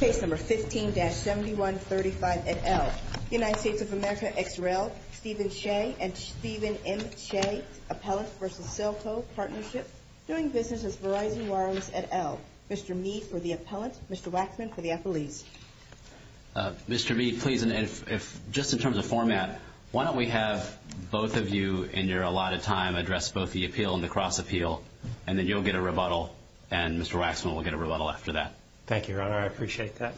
Case number 15-7135 et al., United States of America XRL, Stephen Shea and Stephen M. Shea, Appellant v. Cellco Partnership, doing business with Verizon Wireless et al. Mr. Mee for the Appellant, Mr. Waxman for the Appellee. Mr. Mee, please, just in terms of format, why don't we have both of you in your allotted time address both the appeal and the cross-appeal, and then you'll get a little after that. Thank you, Ron. I appreciate that.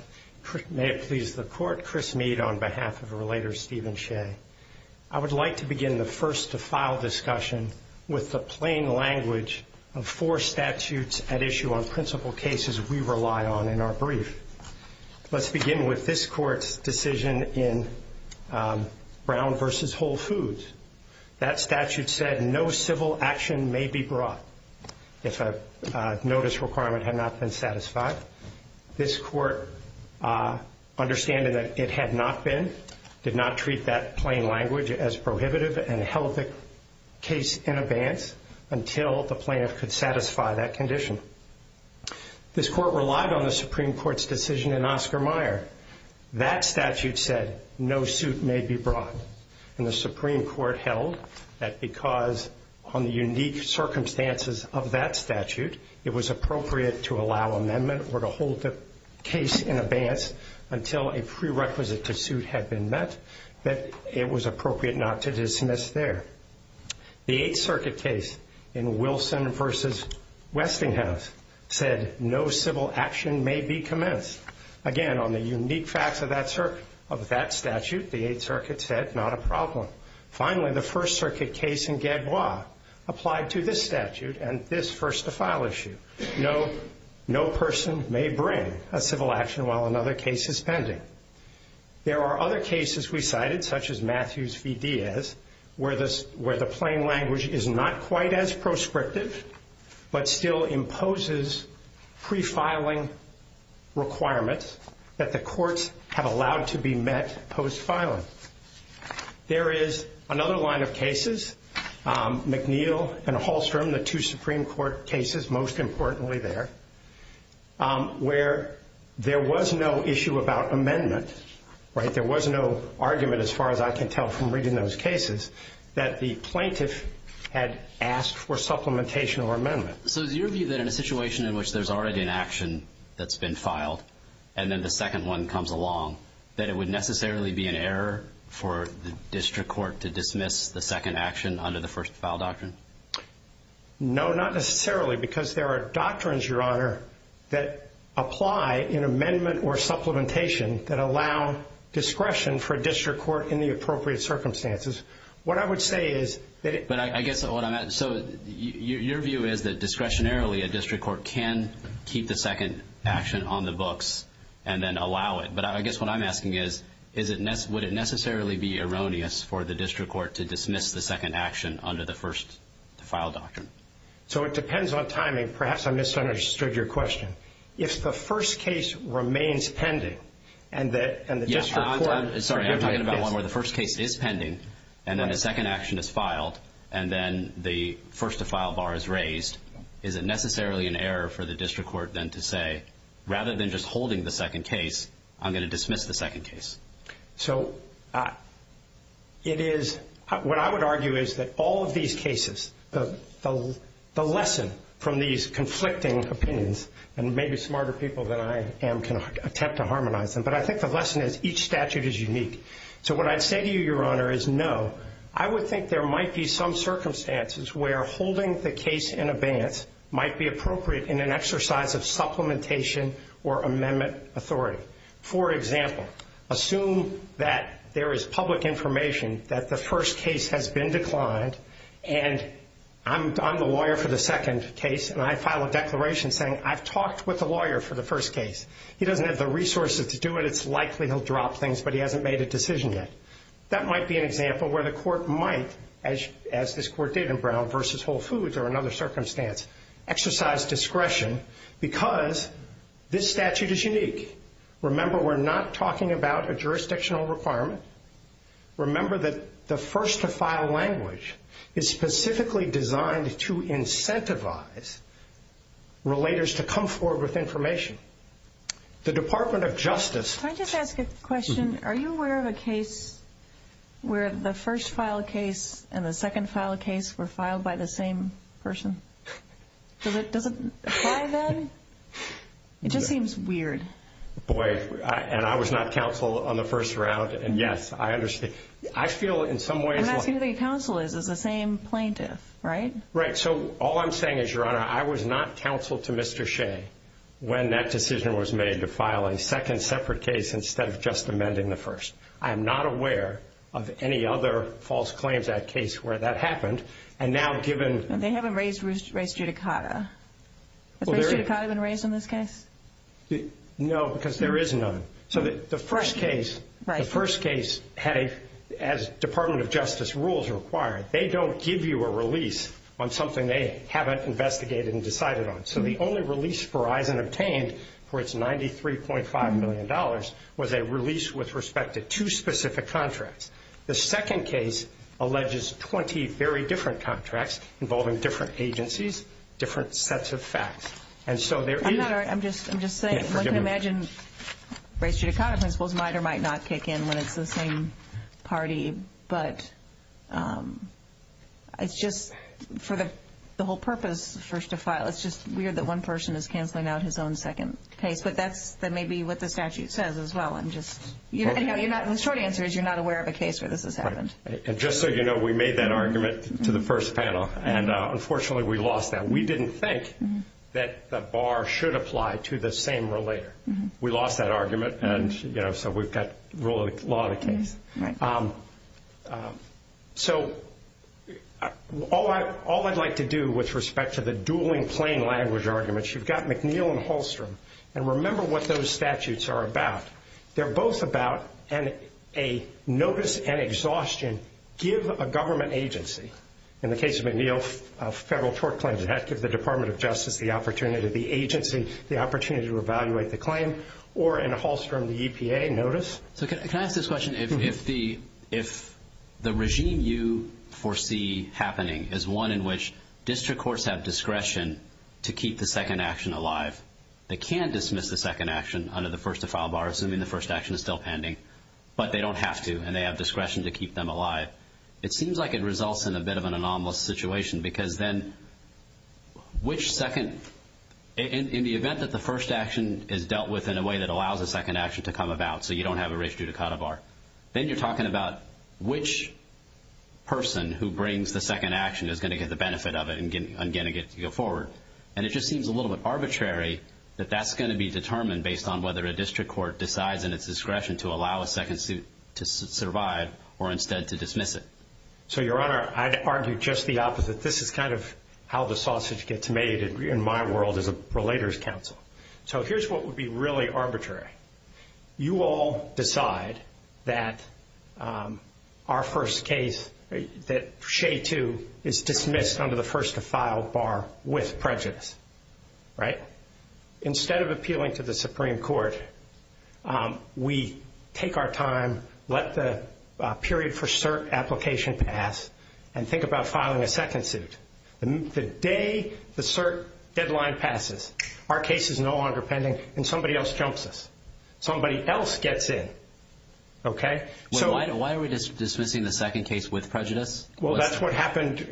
May it please the Court, Chris Mee on behalf of the relator Stephen Shea. I would like to begin the first to file discussion with the plain language of four statutes at issue on principal cases we rely on in our brief. Let's begin with this court's decision in Brown v. Whole Foods. That statute said no civil action may be brought if a plaintiff could satisfy. This court, understanding that it had not been, did not treat that plain language as prohibitive and held the case in abeyance until the plaintiff could satisfy that condition. This court relied on the Supreme Court's decision in Oscar Meyer. That statute said no suit may be brought, and the Supreme Court held that because on the unique circumstances of that statute, it was appropriate to allow amendment or to hold the case in abeyance until a prerequisite to suit had been met, that it was appropriate not to dismiss there. The Eighth Circuit case in Wilson v. Westinghouse said no civil action may be commenced. Again, on the unique facts of that statute, the Eighth Circuit said not a problem. Finally, the First Circuit case in Gagois applied to this statute and this first-to-file issue. No person may bring a civil action while another case is pending. There are other cases we cited, such as Matthews v. Diaz, where the plain language is not quite as proscriptive but still imposes pre-filing requirements that the courts have allowed to be met post-filing. There is another line of cases, McNeil and Hallstrom, the two Supreme Court cases, most importantly there, where there was no issue about amendment. There was no argument, as far as I can tell from reading those cases, that the plaintiff had asked for supplementation or amendment. So is your view that in a situation in which there's already an action that's been filed and then the second one comes along, that it would necessarily be an error for the district court to dismiss the second action under the first-to-file doctrine? No, not necessarily, because there are doctrines, Your Honor, that apply in amendment or supplementation that allow discretion for a district court in the appropriate circumstances. What I would say is that... But I guess what I'm asking, so your view is that discretionarily a district court can keep the second action on the books and then allow it, but I guess what I'm asking is, would it necessarily be erroneous for the district court to dismiss the first-to-file doctrine? So it depends on timing. Perhaps I misunderstood your question. If the first case remains pending and the district court... Yes, Your Honor, I'm talking about one where the first case is pending and then the second action is filed and then the first-to-file bar is raised, is it necessarily an error for the district court then to say, rather than just holding the second case, I'm going to dismiss the second case? So it is... What I would argue is that all of these cases, the lesson from these conflicting opinions, and maybe smarter people than I am can attempt to harmonize them, but I think the lesson is each statute is unique. So what I'd say to you, Your Honor, is no. I would think there might be some circumstances where holding the case in advance might be appropriate in an example where the court might, as this court did in Brown v. Whole Foods or another circumstance, exercise discretion because this statute is unique. Remember, we're not talking about a jurisdictional requirement. Remember that the first-to-file language is specifically designed to incentivize relators to come forward with information. The Department of Justice... Can I just ask a question? Are you aware of a case where the first-file case and the second-file case were filed by the same person? Does it apply then? It just seems weird. And I was not counseled on the first round, and yes, I understand. I feel in some way... And that's who the counsel is, is the same plaintiff, right? Right. So all I'm saying is, Your Honor, I was not counseled to Mr. Shea when that decision was made to file a second separate case instead of just amending the first. I am not aware of any other false claims that case where that happened, and now given... They haven't raised Ritz-Judicata. Has Ritz-Judicata been raised in this case? No, because there is none. So the first case had, as Department of Justice rules require, they don't give you a release on something they haven't investigated and decided on. So the only release Verizon obtained for its $93.5 million was a release with respect to two specific contracts. The other release was a release on different agencies, different sets of facts. And so there is... I'm just saying, once I imagine Ritz-Judicata, I suppose NIDA might not kick in when it's the same party, but it's just sort of the whole purpose of the first to file. It's just weird that one person is canceling out his own second case. But that may be what the statute says as well. And the short answer is you're not aware of a case where this has happened. And just so you know, we made that argument to the first panel, and unfortunately we lost that. We didn't think that the bar should apply to the same relator. We lost that argument, and so we've got really a lot of cases. Right. So all I'd like to do with respect to the dueling plain language arguments, you've got McNeil and Holstrum. And remember what those statutes are about. They're both about a notice and exhaustion, give a government agency. In the case of McNeil, federal court claims, it has to be the Department of Justice, the opportunity, the agency, the opportunity to evaluate the claim, or in Holstrum, the EPA notice. So can I ask this question? If the regime you foresee happening is one in which district courts have discretion to keep the second action alive, they can dismiss the second action under the first to file bar, assuming the first action is still pending. But they don't have to, and they have discretion to keep them alive. It seems like it results in a bit of an anomalous situation, because then which second, in the event that the first action is dealt with in a way that allows a second action to come about, so you don't have a right to cut a bar, then you're talking about which person who brings the second action is going to get the benefit of it and going to get to go forward. And it just seems a little bit arbitrary that that's going to be determined based on whether a district court decides in its discretion to allow a second suit to survive or instead to dismiss it. So, Your Honor, I'd argue just the opposite. This is kind of how the sausage gets made in my world as a Relators Council. So here's what would be really arbitrary. You all decide that our first case, that Shea 2, is with prejudice. Instead of appealing to the Supreme Court, we take our time, let the period for cert application pass, and think about filing a second suit. The day the cert deadline passes, our case is no longer pending, and somebody else counts us. Somebody else gets in. Why are we dismissing the second case with prejudice? Well, that's what happened.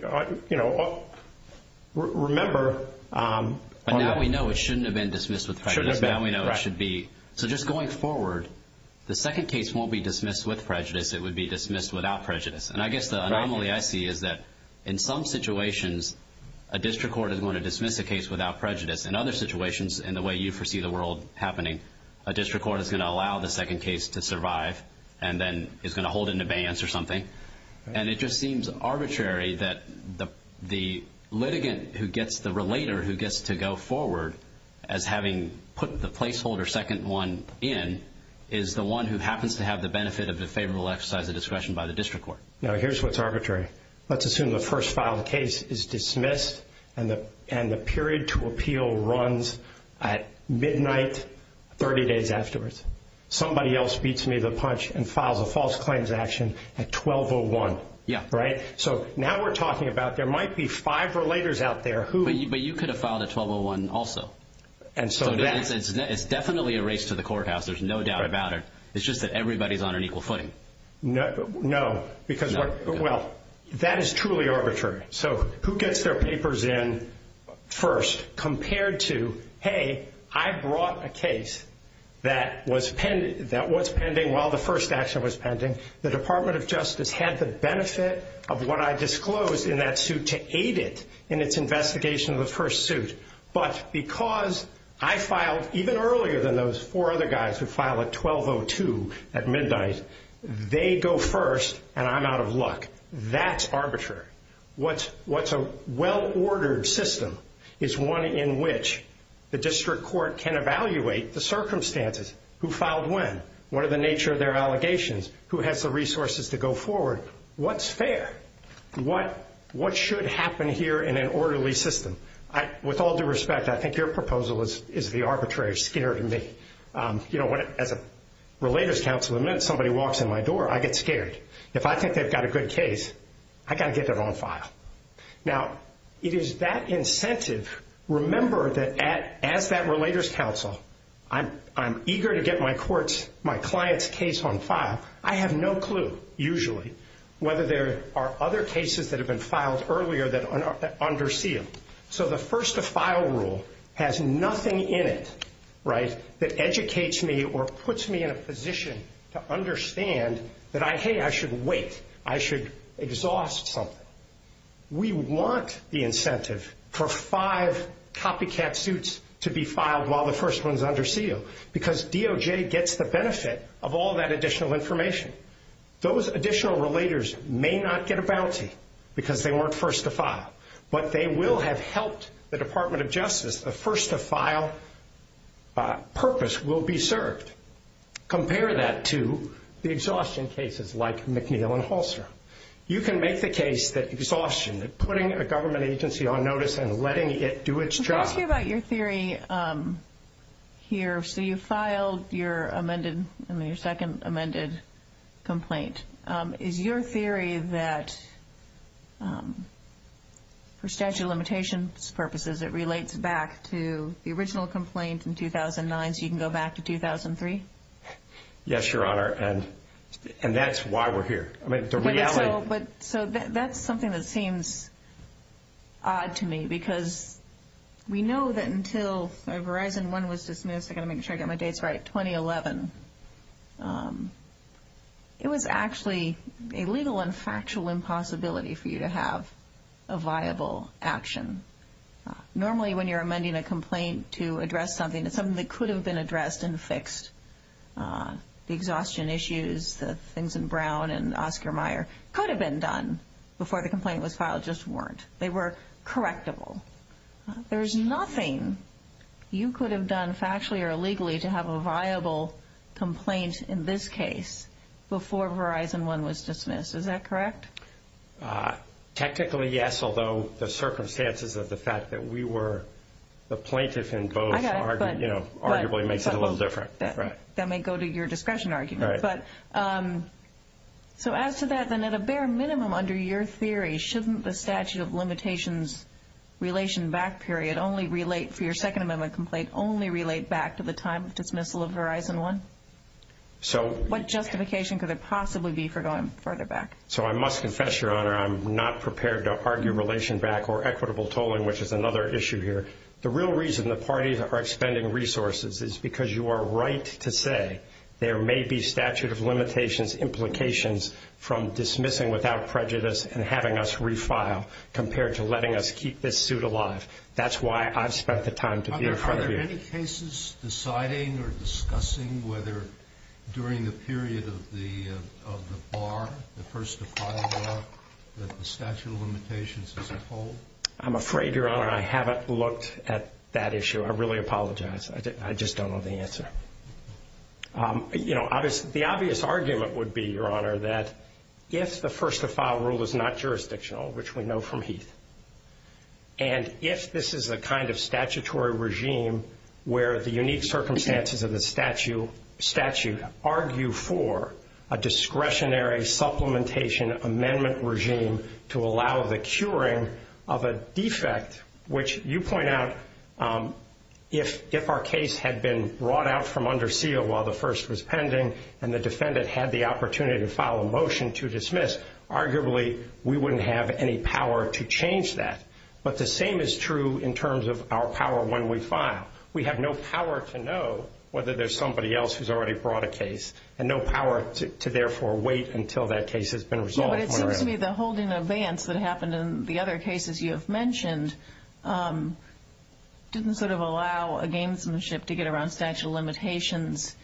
Remember... But now we know it shouldn't have been dismissed with prejudice. Shouldn't have been. Now we know it should be. So just going forward, the second case won't be dismissed with prejudice. It would be dismissed without prejudice. And I guess the anomaly I see is that in some situations, a district court is going to dismiss the case without prejudice. In other situations, in the way you perceive the world happening, a district court is going to allow the second case to survive and then is going to hold it in abeyance or something. And it just seems arbitrary that the litigant who gets the relater, who gets to go forward as having put the placeholder second one in, is the one who happens to have the benefit of the favorable exercise of discretion by the district court. Now here's what's arbitrary. Let's assume the first filed case is dismissed and the period to appeal runs at midnight, 30 days afterwards. Somebody else meets me to the punch and files a false claims action at 12.01. Right? So now we're talking about there might be five relators out there. But you could have filed at 12.01 also. It's definitely a race to the courthouse. There's no doubt about it. It's just that everybody's on an equal footing. No. Because, well, that is truly arbitrary. So who gets their papers in first compared to, hey, I brought a case that was pending while the first action was pending. The Department of Justice had the benefit of what I disclosed in that suit to aid it in its investigation of the first suit. But because I filed even earlier than those four other guys who filed at 12.02 at midnight, they go first and I'm out of luck. That's arbitrary. What's a well-ordered system is one in which the district court can evaluate the circumstances. Who filed when? What are the nature of their allegations? Who has the resources to go forward? What's fair? What should happen here in an orderly system? With all due respect, I think your proposal is the arbitrary. It scared me. You know, as a Relators Councilman, somebody walks in my door, I get scared. If I think they've got a good case, I've got to get their own file. Now, it is that incentive. Remember that as that Relators Council, I'm eager to get my client's case on file. I have no clue, usually, whether there are other cases that have been filed earlier that under seal. So the first to file rule has nothing in it, right, that educates me or puts me in a position to understand that, hey, I should wait. I should exhaust something. We want the incentive for five copycat suits to be filed while the first one is under seal because DOJ gets the benefit of all that additional information. Those additional Relators may not get a penalty because they weren't first to file, but they will have helped the Department of Justice. The first to file purpose will be served. Compare that to the exhaustion cases like McNeil and Halster. You can make the case that exhaustion, that putting a government agency on notice and letting it do its job. Let's hear about your theory here. So you filed your amended, I mean your second amended complaint. Is your theory that for statute of limitations purposes, it relates back to the original complaint in 2009 so you can go back to 2003? Yes, Your Honor, and that's why we're here. So that's something that seems odd to me because we know that until Verizon 1 was dismissed, I've got to make sure I get my dates right, 2011, it was actually a legal and factual impossibility for you to have a viable action. Normally when you're amending a complaint to address something, it's something that could have been addressed and fixed. The exhaustion issues, the things in Brown and Oscar Meyer could have been done before the complaint was filed, just weren't. They were correctable. There's nothing you could have done factually or illegally to have a viable complaint in this case before Verizon 1 was dismissed. Is that correct? Technically, yes, although the circumstances of the fact that we were the plaintiffs in both arguably makes it a little different. That may go to your discretion argument. So as to that, then at a bare minimum under your theory, shouldn't the statute of limitations relation back period only relate for your Second Amendment complaint only relate back to the time of dismissal of Verizon 1? What justification could there possibly be for going further back? So I must confess, Your Honor, I'm not prepared to argue relation back or equitable tolling, which is another issue here. The real reason the parties are extending resources is because you are right to say there may be statute of limitations implications from dismissing without prejudice and having us refile compared to letting us keep this suit alive. That's why I've spent the time to be in front of you. Are there any cases deciding or discussing whether during the period of the bar, the first to file a law, that the statute of limitations is upheld? I'm afraid, Your Honor, I haven't looked at that issue. I really apologize. I just don't know the answer. You know, the obvious argument would be, Your Honor, that yes, the first to file rule is not jurisdictional, which we know from Heath. And yes, this is the kind of statutory regime where the unique circumstances of the statute argue for a discretionary supplementation amendment regime to allow the curing of a defect, which you point out if our case had been brought out from under seal while the first was pending and the defendant had the opportunity to file a motion to dismiss, arguably we wouldn't have any power to change that. But the same is true in terms of our power when we file. We have no power to know whether there's somebody else who's already brought a case and no power to, therefore, wait until that case has been resolved. The holding of bans that happened in the other cases you have mentioned didn't sort of allow a gamesmanship to get around statute of limitations.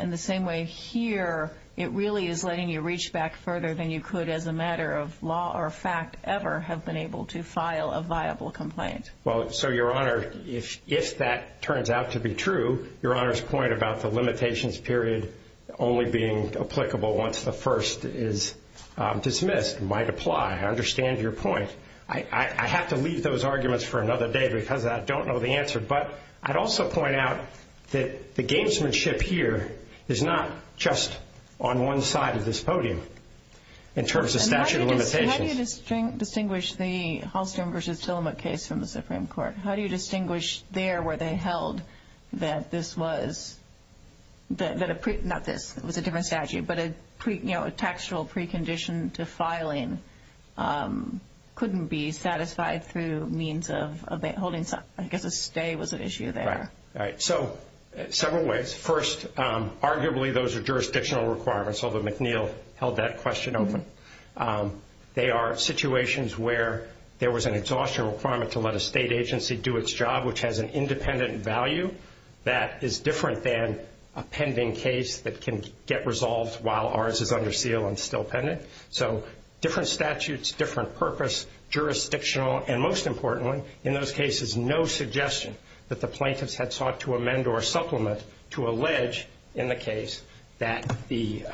In the same way here, it really is letting you reach back further than you could as a matter of law or fact ever have been able to file a viable complaint. Well, so, Your Honor, if that turns out to be true, Your Honor's point about the limitations period only being applicable once the first is dismissed might apply. I understand your point. I have to leave those arguments for another day because I don't know the answer. But I'd also point out that the gamesmanship here is not just on one side of this podium in terms of statute of limitations. How do you distinguish the Halston v. Tillamook case from the Supreme Court? How do you distinguish there where they held that this was, not this, it was a different statute, but a textual precondition to filing couldn't be satisfied through means of holding, I guess a stay was an issue there. Right. So, several ways. First, arguably, those are jurisdictional requirements, although McNeil held that question open. They are situations where there was an exhaustion requirement to let a state agency do its job, which has an independent value that is different than a pending case that can get resolved while ours is under seal and still pending. So, different statutes, different purpose, jurisdictional, and most importantly, in those cases, no suggestion that the plaintiffs had sought to amend or supplement to allege in the case that the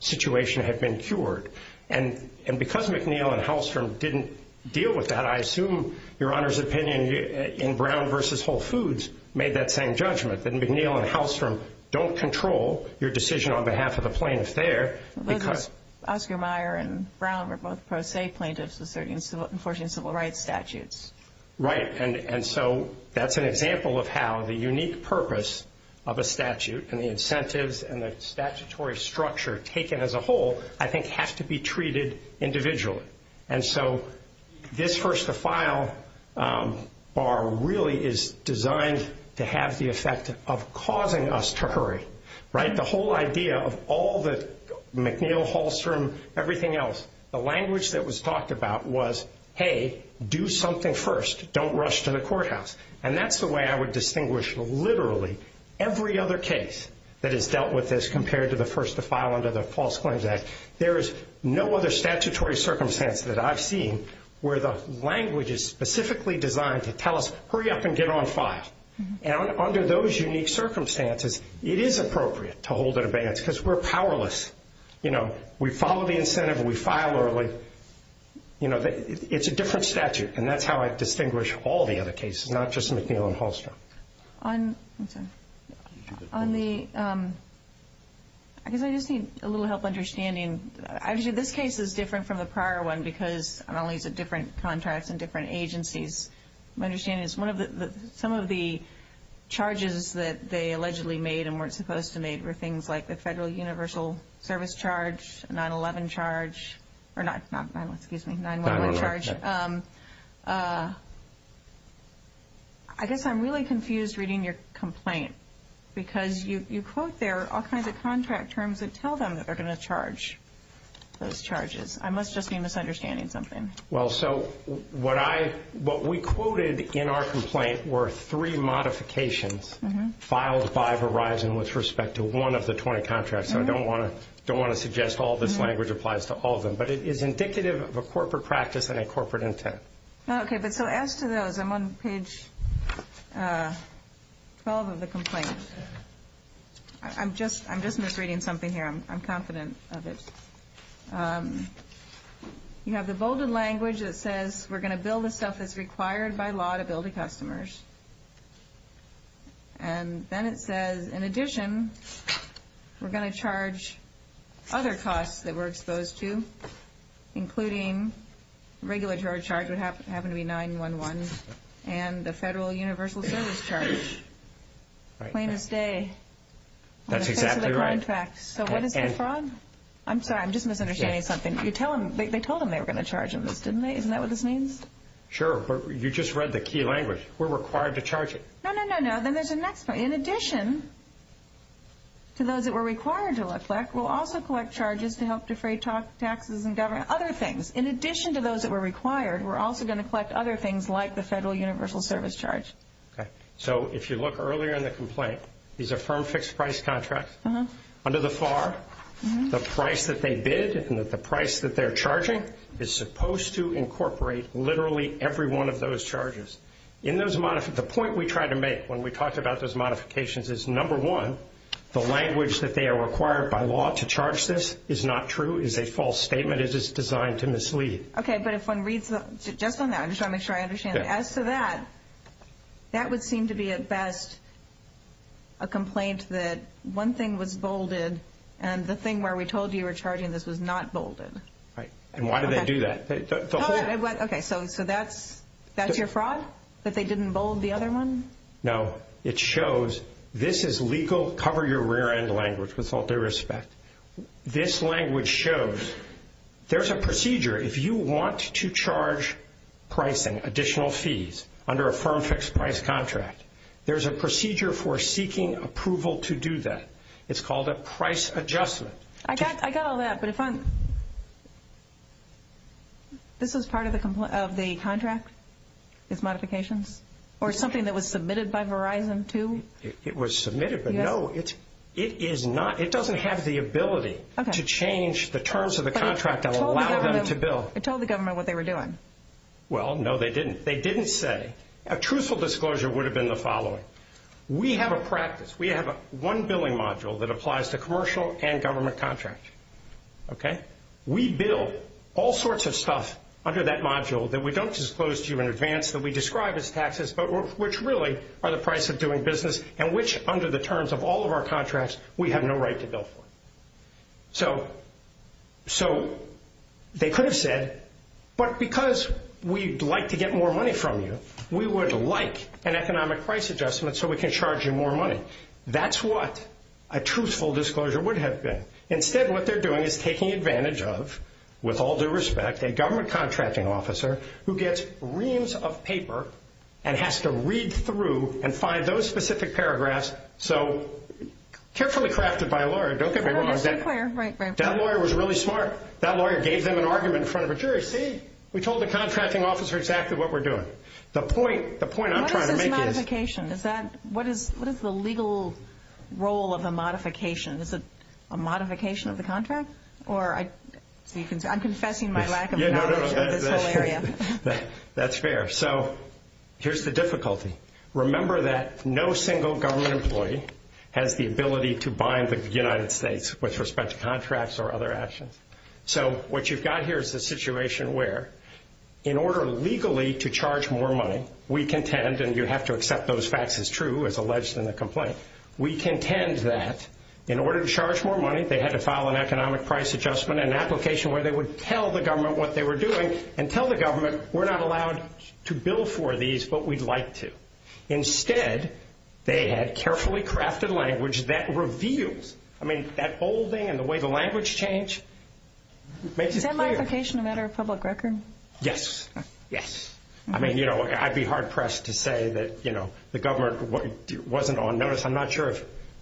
situation had been cured. And because McNeil and Halston didn't deal with that, I assume your Honor's opinion in Brown v. Whole Foods made that same judgment, that McNeil and Halston don't control your decision on behalf of the plaintiffs there. Oscar Meyer and Brown were both pro se plaintiffs with certain civil rights statutes. Right. And so, that's an example of how the unique purpose of a statute and the incentives and the statutory structure taken as a whole, I think, has to be treated individually. And so, this first to file bar really is designed to have the effect of causing us trickery. Right. The whole idea of all the McNeil, Halston, everything else, the language that was talked about was, hey, do something first, don't rush to the courthouse. And that's the way I would distinguish literally every other case that is dealt with as compared to the first to file under the False Claims Act. There is no other statutory circumstance that I've seen where the language is specifically designed to tell us, hurry up and get on file. And under those unique circumstances, it is appropriate to hold it in advance because we're powerless, you know. We follow the incentive and we file early. But, you know, it's a different statute. And that's how I distinguish all the other cases, not just McNeil and Halston. On the, I guess I just need a little help understanding. Actually, this case is different from the prior one because, not only the different contracts and different agencies, my understanding is some of the charges that they allegedly made and weren't supposed to make were things like the Federal Universal Service Charge, 9-1-1 charge, or not 9-1-1, excuse me, 9-1-1 charge. I guess I'm really confused reading your complaint because you quote there all kinds of contract terms that tell them that they're going to charge those charges. I must just be misunderstanding something. Well, so what we quoted in our complaint were three modifications filed by Verizon with respect to one of the 20 contracts. So I don't want to suggest all this language applies to all of them. But it is indicative of a corporate practice and a corporate intent. Okay, but so as to those, I'm on page 12 of the complaint. I'm just misreading something here. I'm confident of it. You have the bolded language that says, we're going to bill the stuff that's required by law to bill the customers. And then it says, in addition, we're going to charge other costs that we're exposed to, including regulatory charge, which happened to be 9-1-1, and the Federal Universal Service Charge. Plain as day. That's exactly right. So wasn't that a fraud? I'm sorry, I'm just misunderstanding something. They told them they were going to charge them, didn't they? Isn't that what this means? Sure, but you just read the key language. We're required to charge it. No, no, no, no. Then there's the next part. In addition to those that we're required to collect, we'll also collect charges to help defray taxes and government, other things. In addition to those that we're required, we're also going to collect other things like the Federal Universal Service Charge. Okay. So if you look earlier in the complaint, these are firm fixed price contracts. Under the FAR, the price that they bid and the price that they're charging is supposed to incorporate literally every one of those charges. The point we tried to make when we talked about those modifications is, number one, the language that they are required by law to charge this is not true, is a false statement, and is designed to mislead. Okay, but if one reads just on that, I'm just trying to make sure I understand. As to that, that would seem to be at best a complaint that one thing was bolded and the thing where we told you we're charging this is not bolded. And why did they do that? Okay, so that's your fraud, that they didn't bold the other one? No. It shows this is legal. Cover your rear end language with all due respect. This language shows there's a procedure. If you want to charge pricing, additional fees, under a firm fixed price contract, there's a procedure for seeking approval to do that. It's called a price adjustment. I got all that, but this is part of the contract, this modification, or something that was submitted by Verizon, too? It was submitted, but no, it doesn't have the ability to change the terms of the contract and allow them to bill. Tell the government what they were doing. Well, no, they didn't. They didn't say. A truthful disclosure would have been the following. We have a practice. That applies to commercial and government contracts. Okay? We bill all sorts of stuff under that module that we don't disclose to you in advance, that we describe as taxes, but which really are the price of doing business, and which under the terms of all of our contracts, we have no right to bill for. So they could have said, but because we'd like to get more money from you, we would like an economic price adjustment so we can charge you more money. That's what a truthful disclosure would have been. Instead, what they're doing is taking advantage of, with all due respect, a government contracting officer who gets reams of paper and has to read through and find those specific paragraphs. So carefully crafted by a lawyer. Don't get me wrong. That lawyer was really smart. That lawyer gave them an argument in front of a jury. See, we told the contracting officer exactly what we're doing. The point I'm trying to make is. What is a modification? What is the legal role of a modification? Is it a modification of the contract? I'm confessing my lack of knowledge of this whole area. That's fair. So here's the difficulty. Remember that no single government employee has the ability to bind the United States with respect to contracts or other actions. So what you've got here is a situation where, in order legally to charge more money, we contend, and you have to accept those facts as true as alleged in the complaint, we contend that in order to charge more money, they had to file an economic price adjustment, an application where they would tell the government what they were doing and tell the government, we're not allowed to bill for these, but we'd like to. Instead, they had carefully crafted language that revealed. I mean, that whole thing and the way the language changed makes it clear. Is that modification a matter of public record? Yes. Yes. I mean, you know, I'd be hard-pressed to say that, you know, the government wasn't on notice. I'm not sure.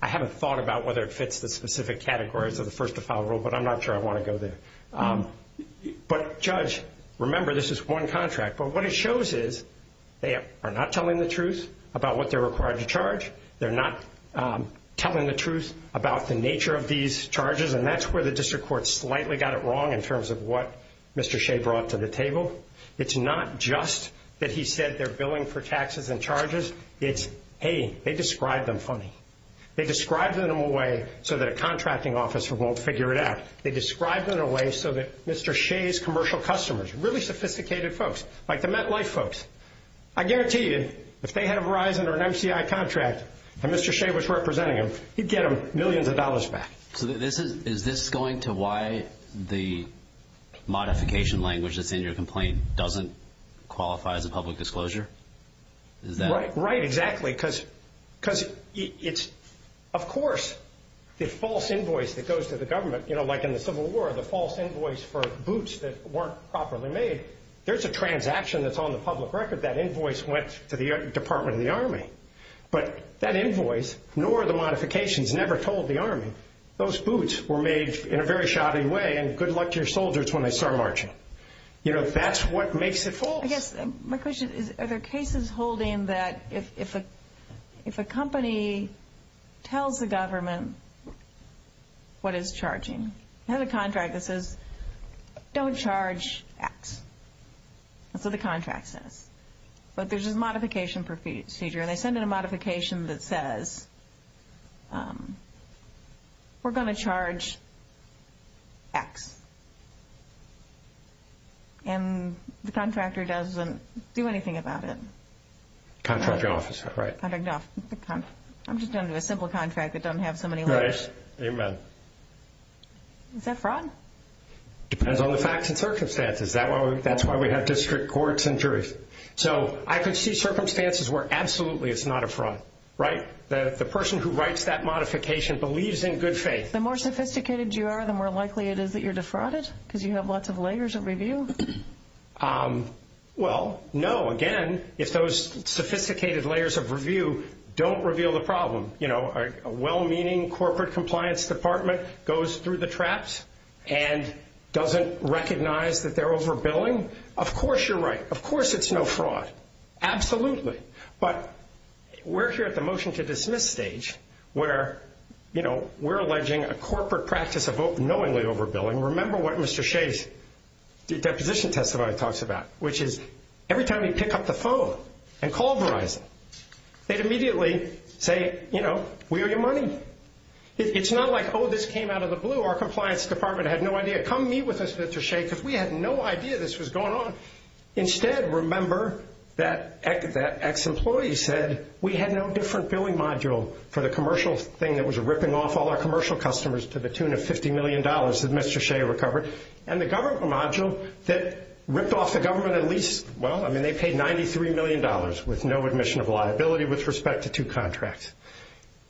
I haven't thought about whether it fits the specific categories of the first-to-file rule, but I'm not sure I want to go there. But, Judge, remember this is one contract. But what it shows is they are not telling the truth about what they're required to charge. They're not telling the truth about the nature of these charges, and that's where the district court slightly got it wrong in terms of what Mr. Shea brought to the table. It's not just that he said they're billing for taxes and charges. It's, hey, they described them funny. They described them in a way so that a contracting officer won't figure it out. They described them in a way so that Mr. Shea's commercial customers, really sophisticated folks, like the MetLife folks, I guarantee you if they had a Verizon or an MCI contract and Mr. Shea was representing them, he'd get them millions of dollars back. So is this going to why the modification language that's in your complaint doesn't qualify as a public disclosure? Right, exactly, because it's, of course, the false invoice that goes to the government, you know, like in the Civil War, the false invoice for boots that weren't properly made, there's a transaction that's on the public record. That invoice went to the Department of the Army, but that invoice, nor the modifications, never told the Army those boots were made in a very shoddy way, and good luck to your soldiers when they start marching. You know, that's what makes it false. Yes, my question is, are there cases holding that if a company tells the government what is charging, they have a contract that says, don't charge X. That's what the contract says. But there's a modification procedure, and they send in a modification that says, we're going to charge X. And the contractor doesn't do anything about it. Contract officer, right. I'm just talking about a simple contract that doesn't have so many letters. Right, amen. Is that fraud? Depends on the facts and circumstances. That's why we have district courts and juries. So I can see circumstances where absolutely it's not a fraud, right? The person who writes that modification believes in good faith. The more sophisticated you are, the more likely it is that you're defrauded, because you have lots of layers of review. Well, no. Again, if those sophisticated layers of review don't reveal the problem, you know, a well-meaning corporate compliance department goes through the traps and doesn't recognize that they're overbilling, of course you're right. Of course it's no fraud. Absolutely. But we're here at the motion to dismiss stage where, you know, we're alleging a corporate practice of knowingly overbilling. Remember what Mr. Shea's deposition testimony talks about, which is every time you pick up the phone and call Verizon, they'd immediately say, you know, where's your money? It's not like, oh, this came out of the blue. Our compliance department had no idea. Come meet with us, Mr. Shea, because we had no idea this was going on. Instead, remember that ex-employee said we had no different billing module for the commercial thing that was ripping off all our commercial customers to the tune of $50 million that Mr. Shea recovered. And the government module that ripped off the government at least, well, I mean, they paid $93 million with no admission of liability with respect to two contracts.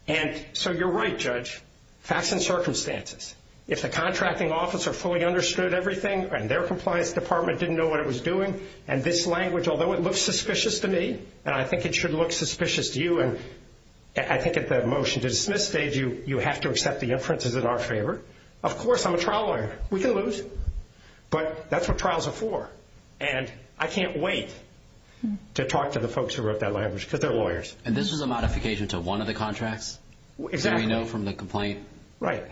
And so you're right, Judge, facts and circumstances. If the contracting officer fully understood everything and their compliance department didn't know what it was doing, and this language, although it looks suspicious to me, and I think it should look suspicious to you, I think at the motion to dismiss stage, you have to accept the inferences in our favor. Of course, I'm a trial lawyer. We can lose. But that's what trials are for. And I can't wait to talk to the folks who wrote that language because they're lawyers. And this is a modification to one of the contracts? Do we know from the complaint? Right.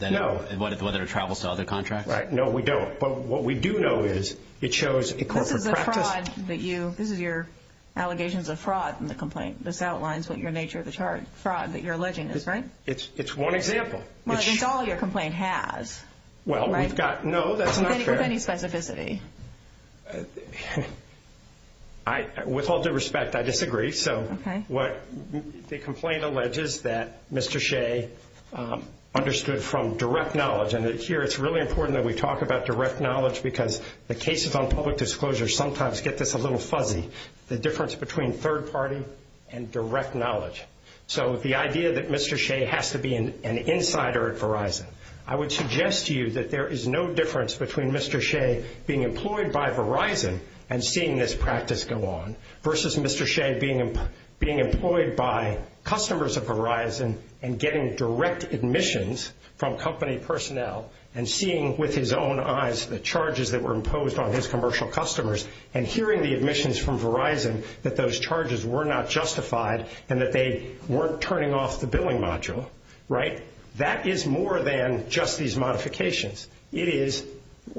No. Whether it travels to other contracts? Right. No, we don't. But what we do know is it shows a corporate practice. This is your allegations of fraud in the complaint. This outlines what your nature of the fraud that you're alleging is, right? It's one example. Well, I think all of your complaint has. Well, we've got no, that's not true. With any specificity. With all due respect, I disagree. So what the complaint alleges that Mr. Shea understood from direct knowledge, and here it's really important that we talk about direct knowledge because the cases on public disclosure sometimes get this a little fuzzy, the difference between third party and direct knowledge. So the idea that Mr. Shea has to be an insider at Verizon, I would suggest to you that there is no difference between Mr. Shea being employed by Verizon and seeing this practice go on versus Mr. Shea being employed by customers of Verizon and getting direct admissions from company personnel and seeing with his own eyes the charges that were imposed on his commercial customers, and hearing the admissions from Verizon that those charges were not justified and that they weren't turning off the billing module, right? That is more than just these modifications. It is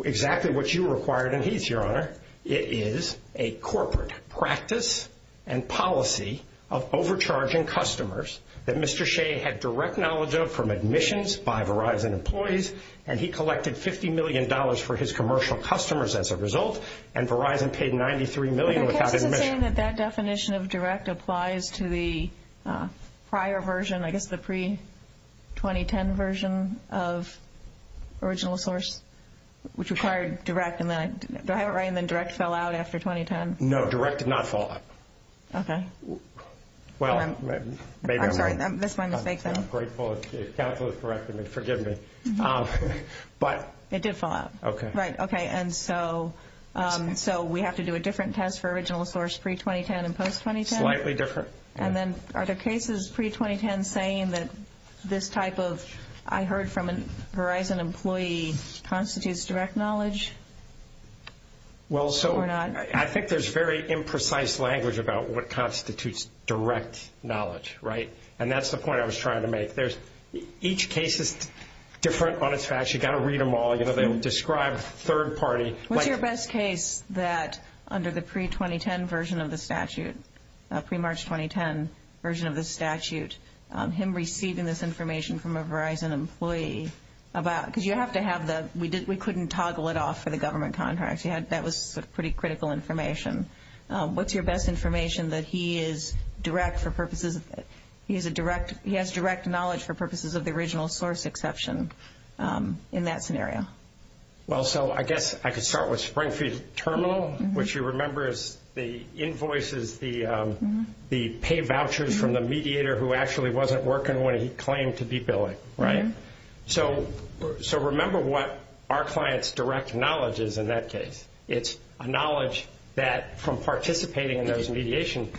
exactly what you required in each, Your Honor. It is a corporate practice and policy of overcharging customers that Mr. Shea had direct knowledge of from admissions by Verizon employees, and he collected $50 million for his commercial customers as a result, and Verizon paid $93 million without admission. That definition of direct applies to the prior version, I guess the pre-2010 version of original source, which required direct and then direct fell out after 2010? No, direct did not fall out. Okay. Well, maybe I'm wrong. Calculus corrected me. Forgive me. It did fall out. Okay. Right, okay. And so we have to do a different test for original source pre-2010 and post-2010? Slightly different. And then are the cases pre-2010 saying that this type of, I heard from Verizon employees, constitutes direct knowledge or not? Well, so I think there's very imprecise language about what constitutes direct knowledge, right? And that's the point I was trying to make. Each case is different on its facts. You've got to read them all. You know, they describe third party. What's your best case that under the pre-2010 version of the statute, pre-March 2010 version of the statute, him receiving this information from a Verizon employee about, because you have to have the, we couldn't toggle it off for the government contracts. That was pretty critical information. What's your best information that he is direct for purposes, he has direct knowledge for purposes of the original source exception in that scenario? Well, so I guess I could start with Springfield Terminal, which you remember is the invoices, the paid vouchers from the mediator who actually wasn't working when he claimed to be billing, right? So remember what our client's direct knowledge is in that case. It's a knowledge that from participating in those mediation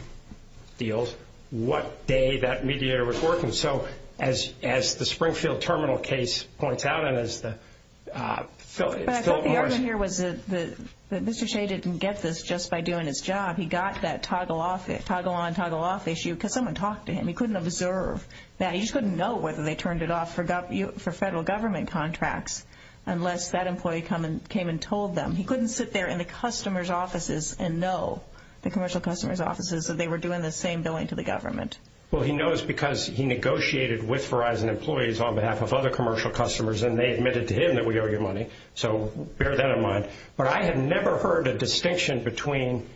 deals, what day that mediator was working. So as the Springfield Terminal case points out and as the Philip Morris. Mr. Shea didn't get this just by doing his job. He got that toggle on, toggle off issue because someone talked to him. He couldn't observe that. He just couldn't know whether they turned it off for federal government contracts unless that employee came and told them. He couldn't sit there in the customer's offices and know the commercial customer's offices that they were doing the same billing to the government. Well, he knows because he negotiated with Verizon employees on behalf of other commercial customers and they admitted to him that we owe you money. So bear that in mind. But I have never heard a distinction between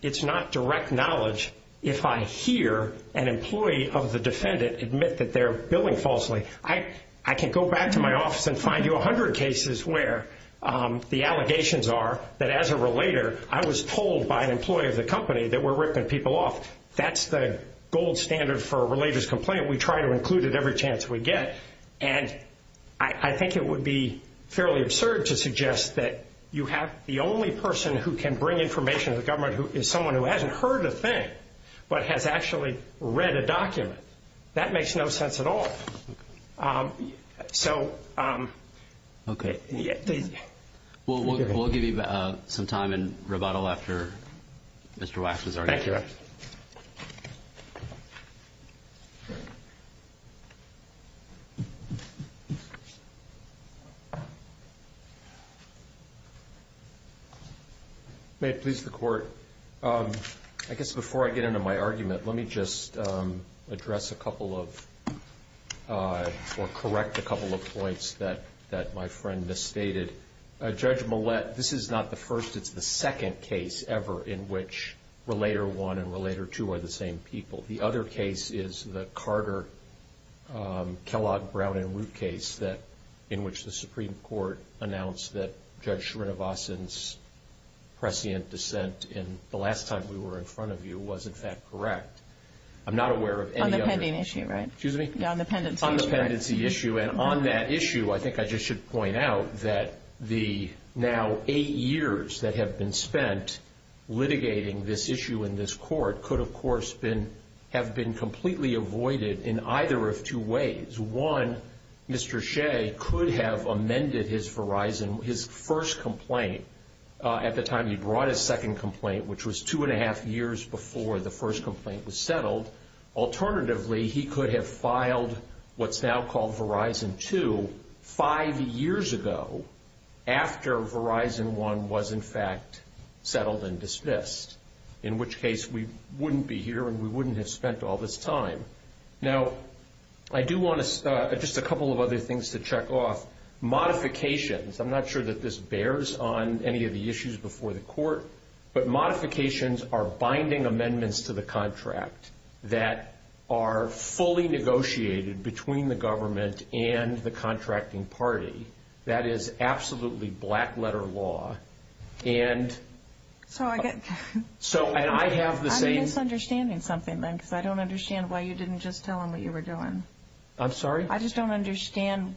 it's not direct knowledge if I hear an employee of the defendant admit that they're billing falsely. I can go back to my office and find you 100 cases where the allegations are that as a relator, I was told by an employee of the company that we're ripping people off. That's the gold standard for a relator's complaint. We try to include it every chance we get. And I think it would be fairly absurd to suggest that you have the only person who can bring information to the government is someone who hasn't heard a thing but has actually read a document. That makes no sense at all. So... Okay. We'll give you some time and rebuttal after Mr. Waxman's argument. Thank you. May it please the Court, I guess before I get into my argument, let me just address a couple of or correct a couple of points that my friend misstated. Judge Millett, this is not the first. It's the second case ever in which Relator 1 and Relator 2 are the same people. The other case is the Carter, Kellogg, Brown, and Root case in which the Supreme Court announced that I'm not aware of any other... On the pending issue, right? Excuse me? No, on the pendency. On the pendency issue. And on that issue, I think I just should point out that the now eight years that have been spent litigating this issue in this court could, of course, have been completely avoided in either of two ways. One, Mr. Shea could have amended his Verizon, his first complaint at the time he brought his second complaint, which was two and a half years before the first complaint was settled. Alternatively, he could have filed what's now called Verizon 2 five years ago after Verizon 1 was, in fact, settled and dismissed, in which case we wouldn't be here and we wouldn't have spent all this time. Now, I do want to just a couple of other things to check off. Modifications. I'm not sure that this bears on any of the issues before the court, but modifications are binding amendments to the contract that are fully negotiated between the government and the contracting party. That is absolutely black-letter law. And I have the same... I'm misunderstanding something. I don't understand why you didn't just tell them what you were doing. I'm sorry? I just don't understand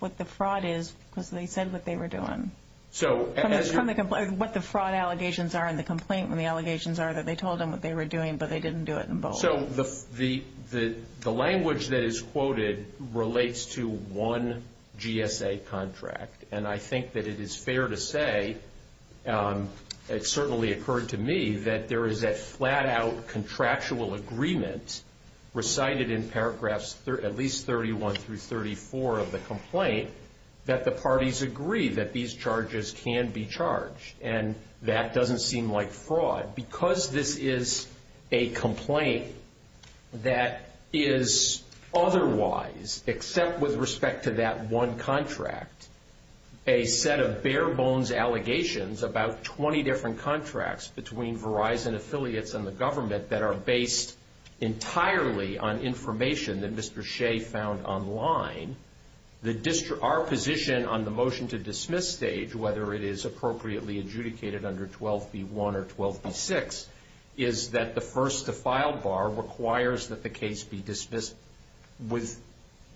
what the fraud is when they said what they were doing. So... What the fraud allegations are and the complaint allegations are that they told them what they were doing, but they didn't do it in both. So the language that is quoted relates to one GSA contract. And I think that it is fair to say, it certainly occurred to me, that there is that flat-out contractual agreement recited in paragraphs at least 31 through 34 of the complaint that the parties agree that these charges can be charged. And that doesn't seem like fraud. Because this is a complaint that is otherwise, except with respect to that one contract, a set of bare-bones allegations about 20 different contracts between Verizon affiliates and the government that are based entirely on information that Mr. Shea found online. Our position on the motion to dismiss state, whether it is appropriately adjudicated under 12B1 or 12B6, is that the first to file bar requires that the case be dismissed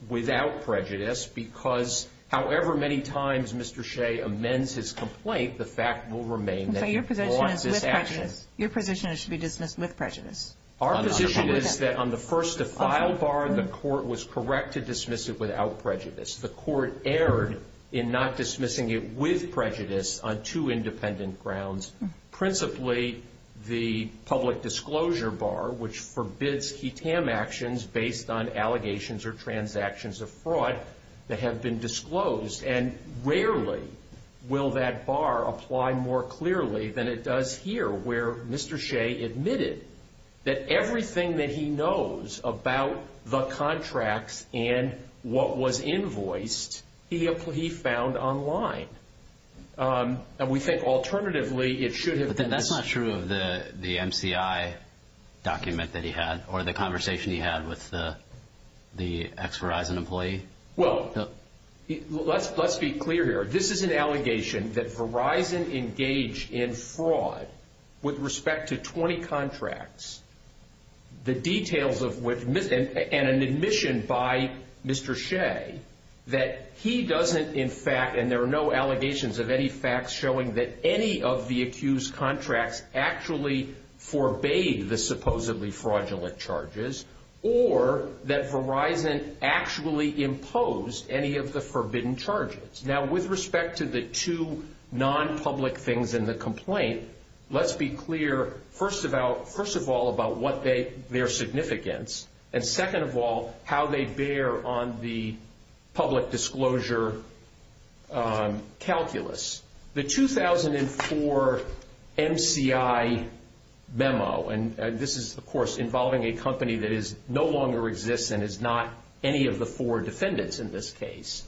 without prejudice because however many times Mr. Shea amends his complaint, the fact will remain that he caused this action. Your position is it should be dismissed with prejudice? Our position is that on the first to file bar, the court was correct to dismiss it without prejudice. The court erred in not dismissing it with prejudice on two independent grounds. Principally, the public disclosure bar, which forbids QTAM actions based on allegations or transactions of fraud that have been disclosed, and rarely will that bar apply more clearly than it does here, where Mr. Shea admitted that everything that he knows about the contracts and what was invoiced, he found online. And we think alternatively it should have been... But that's not true of the MCI document that he had or the conversation he had with the ex-Verizon employee? Well, let's be clear here. This is an allegation that Verizon engaged in fraud with respect to 20 contracts. The details of what... And an admission by Mr. Shea that he doesn't, in fact, and there are no allegations of any facts showing that any of the accused contracts actually forbade the supposedly fraudulent charges or that Verizon actually imposed any of the forbidden charges. Now, with respect to the two non-public things in the complaint, let's be clear, first of all, about what their significance, and second of all, how they bear on the public disclosure calculus. The 2004 MCI memo, and this is, of course, involving a company that no longer exists and is not any of the four defendants in this case,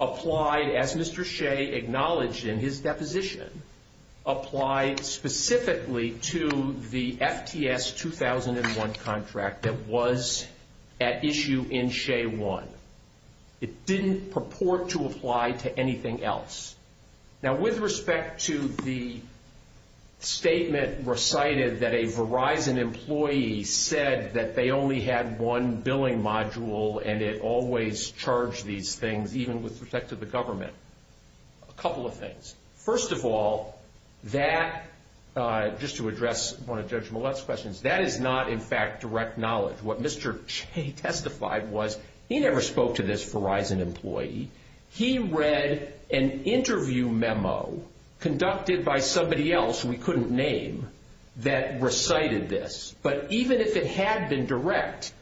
applied, as Mr. Shea acknowledged in his deposition, applied specifically to the FTS 2001 contract that was at issue in Shea 1. It didn't purport to apply to anything else. Now, with respect to the statement recited that a Verizon employee said that they only had one billing module and it always charged these things, even with respect to the government, a couple of things. First of all, that, just to address one of Judge Millett's questions, that is not, in fact, direct knowledge. What Mr. Shea testified was he never spoke to this Verizon employee. He read an interview memo conducted by somebody else we couldn't name that recited this, but even if it had been direct,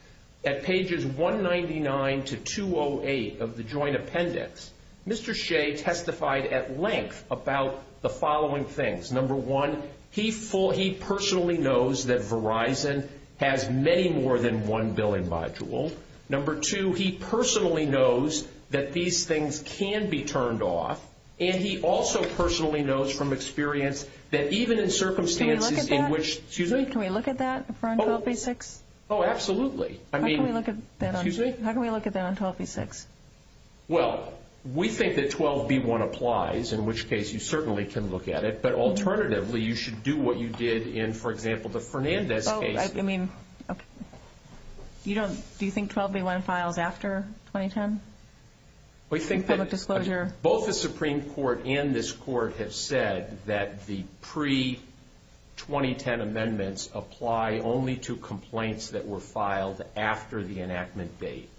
at pages 199 to 208 of the joint appendix, Mr. Shea testified at length about the following things. Number one, he personally knows that Verizon has many more than one billing module. Number two, he personally knows that these things can be turned off, and he also personally knows from experience that even in circumstances in which – Can we look at that? Excuse me? Can we look at that for 12B6? Oh, absolutely. How can we look at that on 12B6? Well, we think that 12B1 applies, in which case you certainly can look at it, but alternatively you should do what you did in, for example, the Fernandez case. Oh, I mean, you don't – do you think 12B1 filed after 2010? We think that both the Supreme Court and this court have said that the pre-2010 amendments apply only to complaints that were filed after the enactment date.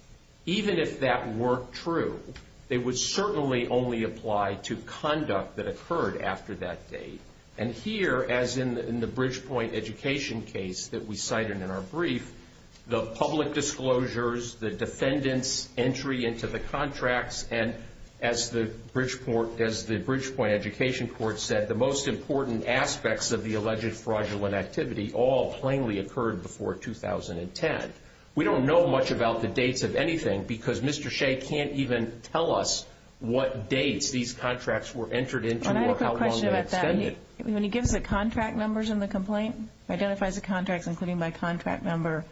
Even if that weren't true, it would certainly only apply to conduct that occurred after that date. And here, as in the Bridgepoint Education case that we cited in our brief, the public disclosures, the defendant's entry into the contracts, and as the Bridgepoint Education court said, the most important aspects of the alleged fraudulent activity all plainly occurred before 2010. We don't know much about the dates of anything because Mr. Shea can't even tell us what dates these contracts were entered into or how long they extended. And I have a question about that. When he gives the contract numbers in the complaint, identifies the contracts, including by contract number,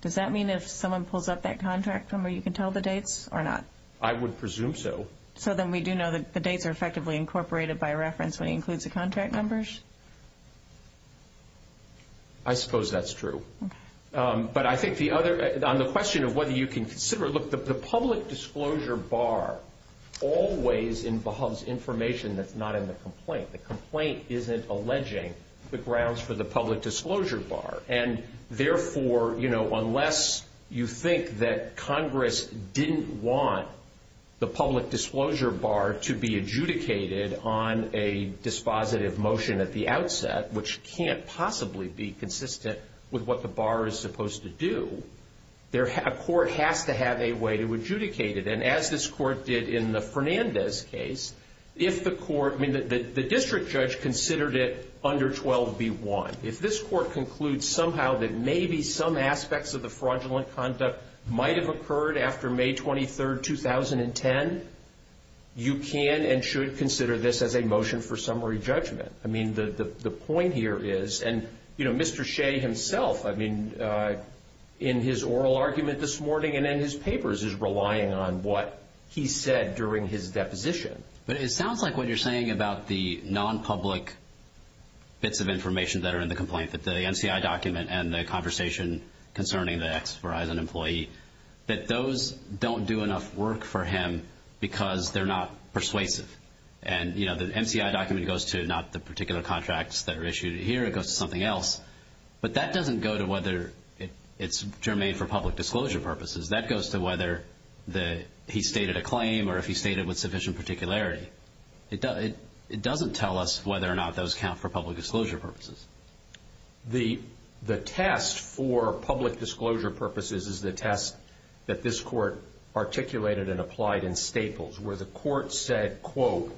does that mean if someone pulls up that contract number, you can tell the dates or not? I would presume so. So then we do know that the dates are effectively incorporated by reference when he includes the contract numbers? I suppose that's true. But I think on the question of whether you can consider it, look, the public disclosure bar always involves information that's not in the complaint. The complaint isn't alleging the grounds for the public disclosure bar. And therefore, you know, unless you think that Congress didn't want the public disclosure bar to be adjudicated on a dispositive motion at the outset, which can't possibly be consistent with what the bar is supposed to do, a court has to have a way to adjudicate it. And as this court did in the Fernandez case, if the district judge considered it under 12B1, if this court concludes somehow that maybe some aspects of the fraudulent conduct might have occurred after May 23, 2010, you can and should consider this as a motion for summary judgment. I mean, the point here is, and, you know, Mr. Shea himself, I mean, in his oral argument this morning and in his papers is relying on what he said during his deposition. But it sounds like what you're saying about the non-public bits of information that are in the complaint, that the MCI document and the conversation concerning the ex-Verizon employee, that those don't do enough work for him because they're not persuasive. And, you know, the MCI document goes to not the particular contracts that are issued here. It goes to something else. But that doesn't go to whether it's germane for public disclosure purposes. That goes to whether he stated a claim or if he stated with sufficient particularity. It doesn't tell us whether or not those count for public disclosure purposes. The test for public disclosure purposes is the test that this court articulated and applied in Staples where the court said, quote,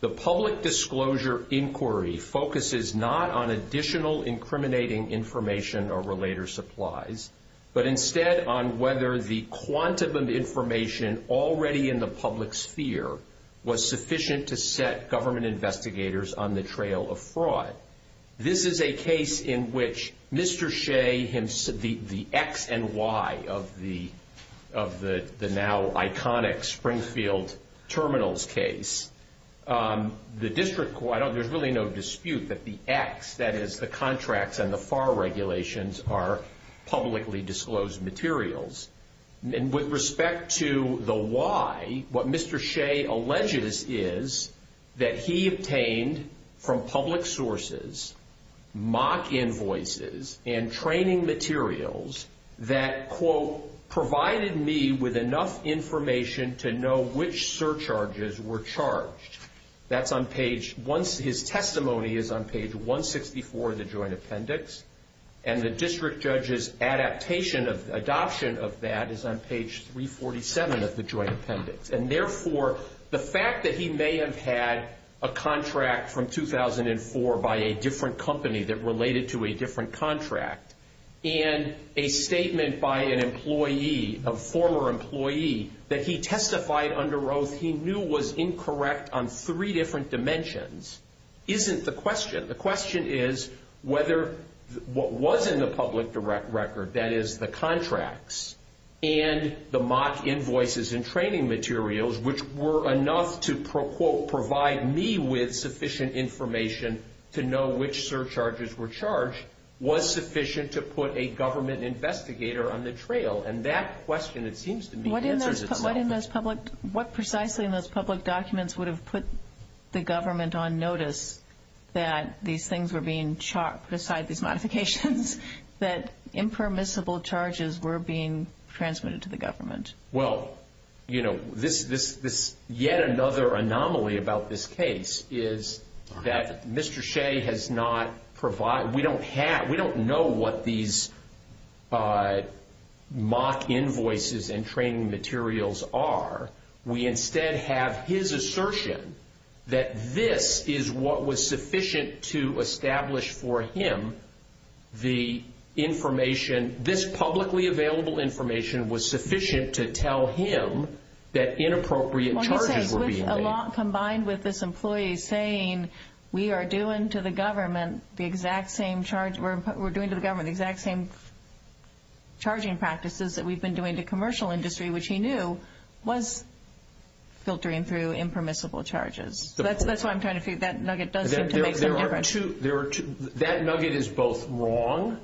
the public disclosure inquiry focuses not on additional incriminating information or related supplies, but instead on whether the quantum of information already in the public sphere was sufficient to set government investigators on the trail of fraud. This is a case in which Mr. Shea, the X and Y of the now iconic Springfield terminals case, the district court, there's really no dispute that the X, that is the contracts and the FAR regulations are publicly disclosed materials. And with respect to the Y, what Mr. Shea alleges is that he obtained from public sources, mock invoices and training materials that, quote, provided me with enough information to know which surcharges were charged. That's on page, his testimony is on page 164 of the joint appendix. And the district judge's adaptation of adoption of that is on page 347 of the joint appendix. And therefore, the fact that he may have had a contract from 2004 by a different company that related to a different contract and a statement by an employee, a former employee, that he testified under oath he knew was incorrect on three different dimensions isn't the question. The question is whether what was in the public record, that is the contracts, and the mock invoices and training materials, which were enough to, quote, provide me with sufficient information to know which surcharges were charged, was sufficient to put a government investigator on the trail. And that question, it seems to me, answers this problem. What precisely in those public documents would have put the government on notice that these things were being charged, these modifications, that impermissible charges were being transmitted to the government? Well, you know, yet another anomaly about this case is that Mr. Shea has not provided, we don't have, we don't know what these mock invoices and training materials are. We instead have his assertion that this is what was sufficient to establish for him the information, this publicly available information was sufficient to tell him that inappropriate charges were being made. Combined with this employee saying we are doing to the government the exact same charge, we're doing to the government the exact same charging practices that we've been doing to commercial industry, which he knew was filtering through impermissible charges. That's why I'm trying to see if that nugget does seem to make a difference. That nugget is both wrong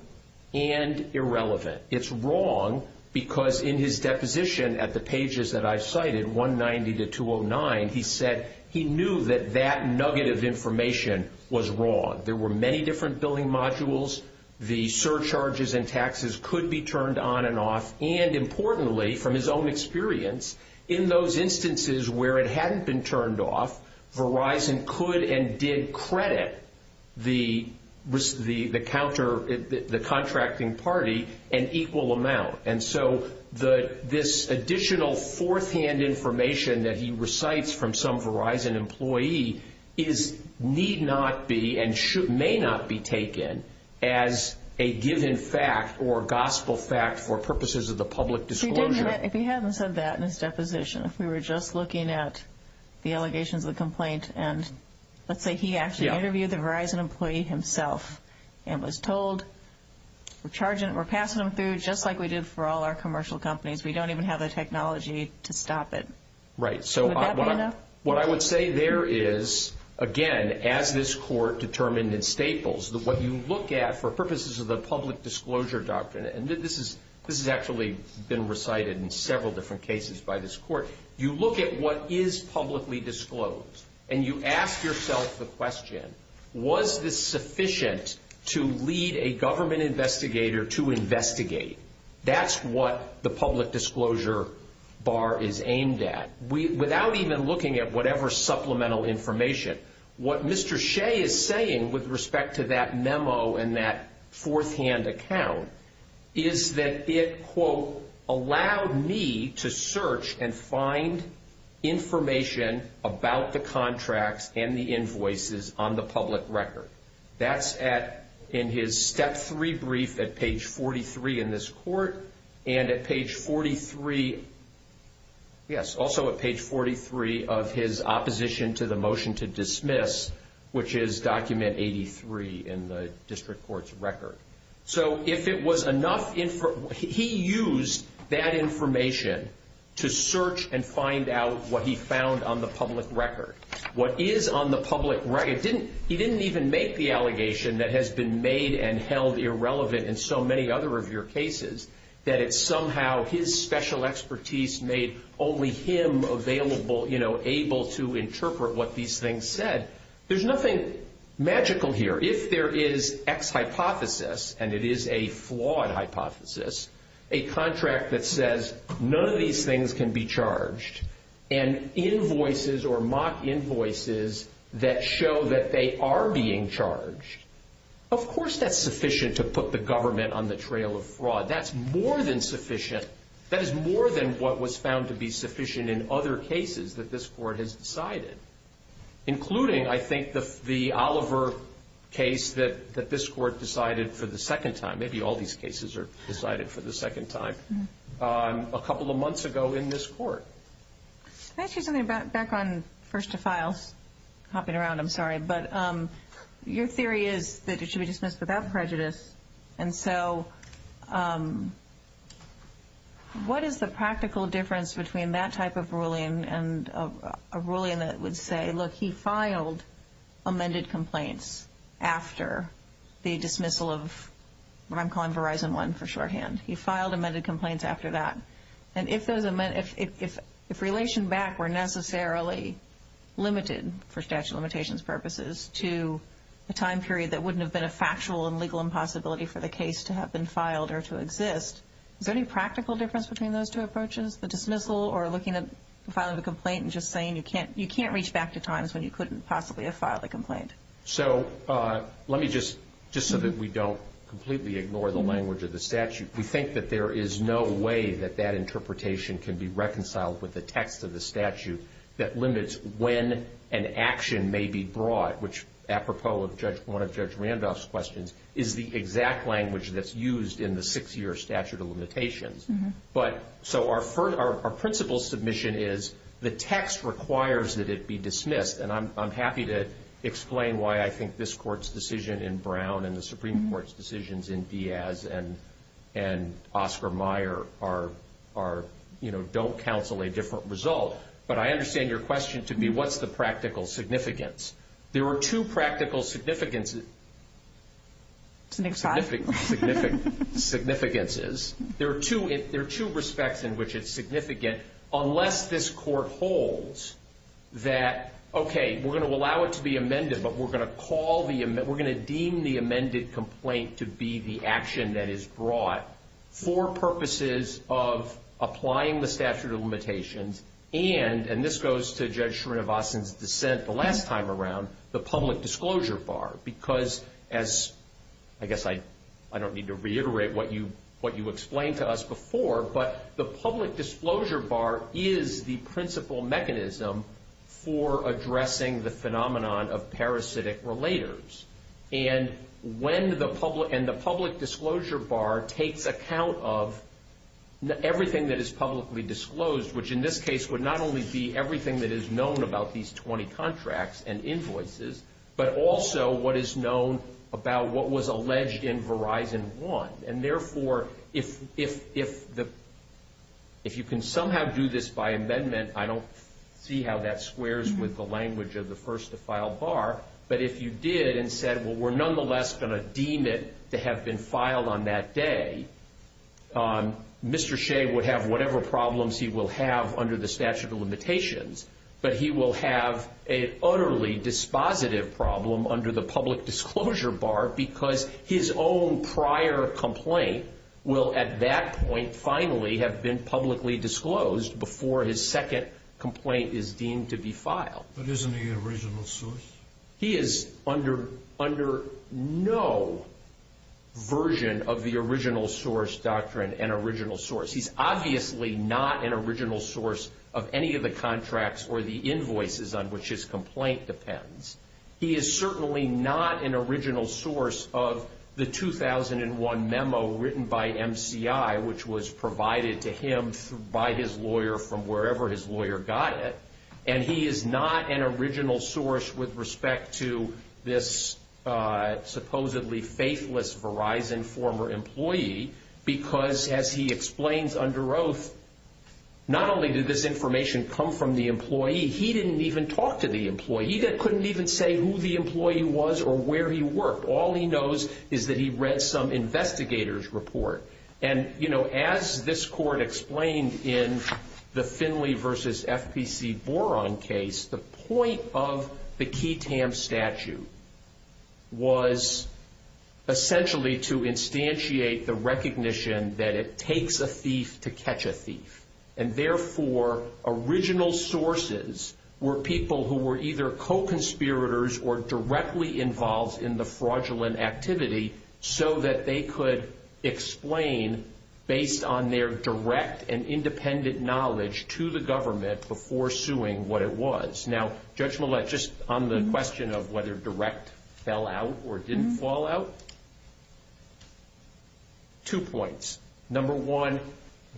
and irrelevant. It's wrong because in his deposition at the pages that I've cited, 190 to 209, he said he knew that that nugget of information was wrong. There were many different billing modules. The surcharges and taxes could be turned on and off. And importantly, from his own experience, in those instances where it hadn't been turned off, Verizon could and did credit the contracting party an equal amount. And so this additional forehand information that he recites from some Verizon employee need not be and may not be taken as a given fact or gospel fact or purposes of the public disclosure. He hasn't said that in his deposition. We were just looking at the allegations of the complaints, and let's say he actually interviewed the Verizon employee himself and was told we're passing them through just like we did for all our commercial companies. We don't even have the technology to stop it. Right. Would that be enough? What I would say there is, again, as this court determined in Staples, what you look at for purposes of the public disclosure doctrine, and this has actually been recited in several different cases by this court, you look at what is publicly disclosed and you ask yourself the question, was this sufficient to lead a government investigator to investigate? That's what the public disclosure bar is aimed at. Without even looking at whatever supplemental information, what Mr. Shea is saying with respect to that memo and that forehand account is that it, quote, allowed me to search and find information about the contracts and the invoices on the public record. That's in his step three brief at page 43 in this court, and at page 43, yes, also at page 43 of his opposition to the motion to dismiss, which is document 83 in the district court's record. So if it was enough, he used that information to search and find out what he found on the public record. What is on the public record, he didn't even make the allegation that has been made and held irrelevant in so many other of your cases, that it's somehow his special expertise made only him available, you know, able to interpret what these things said. There's nothing magical here. If there is X hypothesis, and it is a flawed hypothesis, a contract that says none of these things can be charged, and invoices or mock invoices that show that they are being charged, of course that's sufficient to put the government on the trail of fraud. That's more than sufficient. That is more than what was found to be sufficient in other cases that this court has decided, including, I think, the Oliver case that this court decided for the second time. Maybe all these cases are decided for the second time a couple of months ago in this court. Can I ask you something back on First to File? Hopping around, I'm sorry, but your theory is that it should be dismissed without prejudice, and so what is the practical difference between that type of ruling and a ruling that would say, look, he filed amended complaints after the dismissal of what I'm calling Verizon One for shorthand. He filed amended complaints after that, and if relation back were necessarily limited for statute of limitations purposes to a time period that wouldn't have been a factual and legal impossibility for the case to have been filed or to exist, is there any practical difference between those two approaches, the dismissal or looking at filing a complaint and just saying you can't reach back to times when you couldn't possibly have filed a complaint? So let me just, just so that we don't completely ignore the language of the statute, we think that there is no way that that interpretation can be reconciled with the text of the statute that limits when an action may be brought, which apropos of one of Judge Randolph's questions, is the exact language that's used in the six-year statute of limitations. But so our principle submission is the text requires that it be dismissed, and I'm happy to explain why I think this court's decision in Brown and the Supreme Court's decisions in Diaz and Oscar Meyer are, you know, don't counsel a different result, but I understand your question to me, what's the practical significance? There are two practical significances. There are two respects in which it's significant, unless this court holds that, okay, we're going to allow it to be amended, but we're going to call the, we're going to deem the amended complaint to be the action that is brought for purposes of applying the statute of limitations and, and this goes to Judge Srinivasan's dissent the last time around, the public disclosure bar, because as, I guess I don't need to reiterate what you explained to us before, but the public disclosure bar is the principle mechanism for addressing the phenomenon of parasitic relators. And when the public, and the public disclosure bar takes account of everything that is publicly disclosed, which in this case would not only be everything that is known about these 20 contracts and influences, but also what is known about what was alleged in Verizon 1. And therefore, if, if, if the, if you can somehow do this by amendment, I don't see how that squares with the language of the first to file bar, but if you did and said, well, we're nonetheless going to deem it to have been filed on that day, Mr. Shea would have whatever problems he will have under the statute of limitations, but he will have an utterly dispositive problem under the public disclosure bar, because his own prior complaint will at that point finally have been publicly disclosed before his second complaint is deemed to be filed. But isn't he an original source? He is under, under no version of the original source doctrine and original source. He's obviously not an original source of any of the contracts or the invoices on which his complaint depends. He is certainly not an original source of the 2001 memo written by MCI, which was provided to him by his lawyer from wherever his lawyer got it, and he is not an original source with respect to this supposedly faithless Verizon former employee, because as he explains under oath, not only did this information come from the employee, he didn't even talk to the employee. He couldn't even say who the employee was or where he worked. All he knows is that he read some investigator's report. And, you know, as this court explained in the Finley versus FPC Boron case, the point of the QI-TAM statute was essentially to instantiate the recognition that it takes a thief to catch a thief, and therefore original sources were people who were either co-conspirators or directly involved in the fraudulent activity so that they could explain based on their direct and independent knowledge to the government before suing what it was. Now, Judge Millett, just on the question of whether direct fell out or didn't fall out, two points. Number one,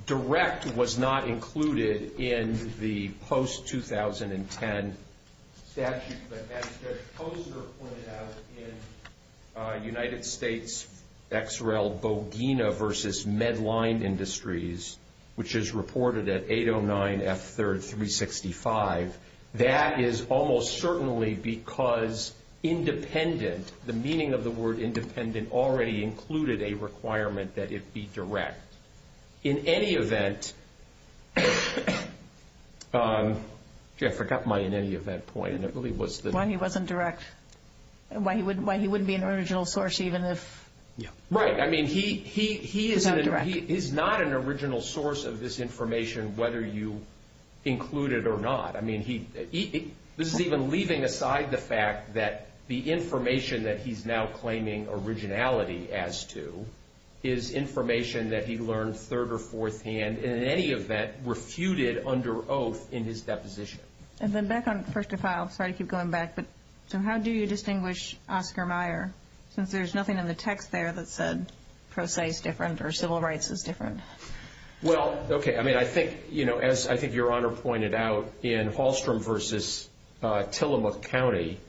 direct was not included in the post-2010 statute, but as Judge Koster pointed out in United States XRL Bogina versus Medline Industries, which is reported at 809 F3rd 365, that is almost certainly because independent, the meaning of the word independent already included a requirement that it be direct. In any event, I forgot my in any event point. Why he wasn't direct. Why he wouldn't be an original source even if... Right, I mean, he is not an original source of this information whether you include it or not. I mean, this is even leaving aside the fact that the information that he's now claiming originality as to is information that he learned third or fourth hand and in any event refuted under oath in his deposition. And then back on First to File, sorry to keep going back, but so how do you distinguish Oscar Mayer since there's nothing in the text there that said pro se is different or civil rights is different? Well, okay. I mean, I think, you know, as I think Your Honor pointed out in Hallstrom versus Tillamook County,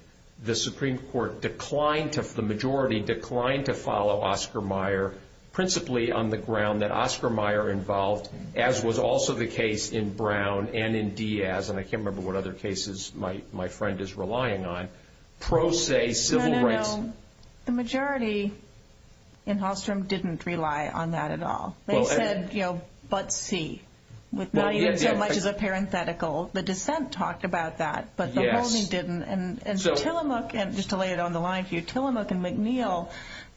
the Supreme Court declined to, the majority declined to follow Oscar Mayer, principally on the ground that Oscar Mayer involved, as was also the case in Brown and in Diaz, and I can't remember what other cases my friend is relying on, pro se civil rights. No, no, no. The majority in Hallstrom didn't rely on that at all. They said, you know, but see. Now you get so much of the parenthetical. The dissent talked about that, but the holding didn't. And Tillamook, and just to lay it on the line for you, Tillamook and McNeil,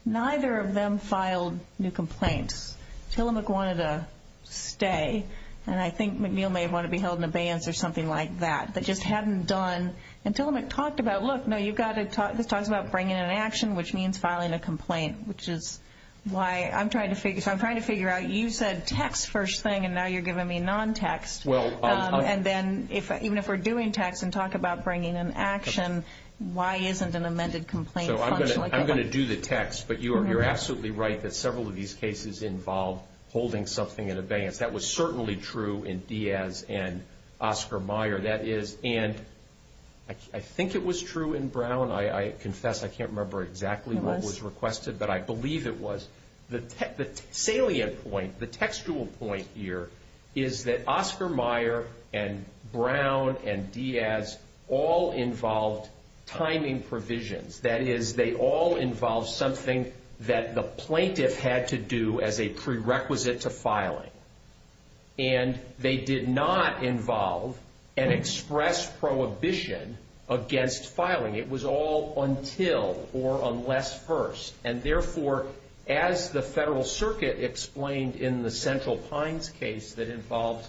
neither of them filed new complaints. Tillamook wanted to stay, and I think McNeil may have wanted to be held in abeyance or something like that. They just hadn't done, and Tillamook talked about, look, no, you've got to, it talks about bringing an action, which means filing a complaint, which is why I'm trying to figure, so I'm trying to figure out, you said text first thing, and now you're giving me non-text. And then even if we're doing text and talk about bringing an action, why isn't an amended complaint? So I'm going to do the text, but you're absolutely right that several of these cases involve holding something in abeyance. That was certainly true in Diaz and Oscar Mayer. That is, and I think it was true in Brown. I confess I can't remember exactly what was requested, but I believe it was. The salient point, the textual point here, is that Oscar Mayer and Brown and Diaz all involved timing provisions. That is, they all involved something that the plaintiff had to do as a prerequisite to filing. And they did not involve an express prohibition against filing. It was all until or unless first, and therefore, as the Federal Circuit explained in the Central Pines case that involved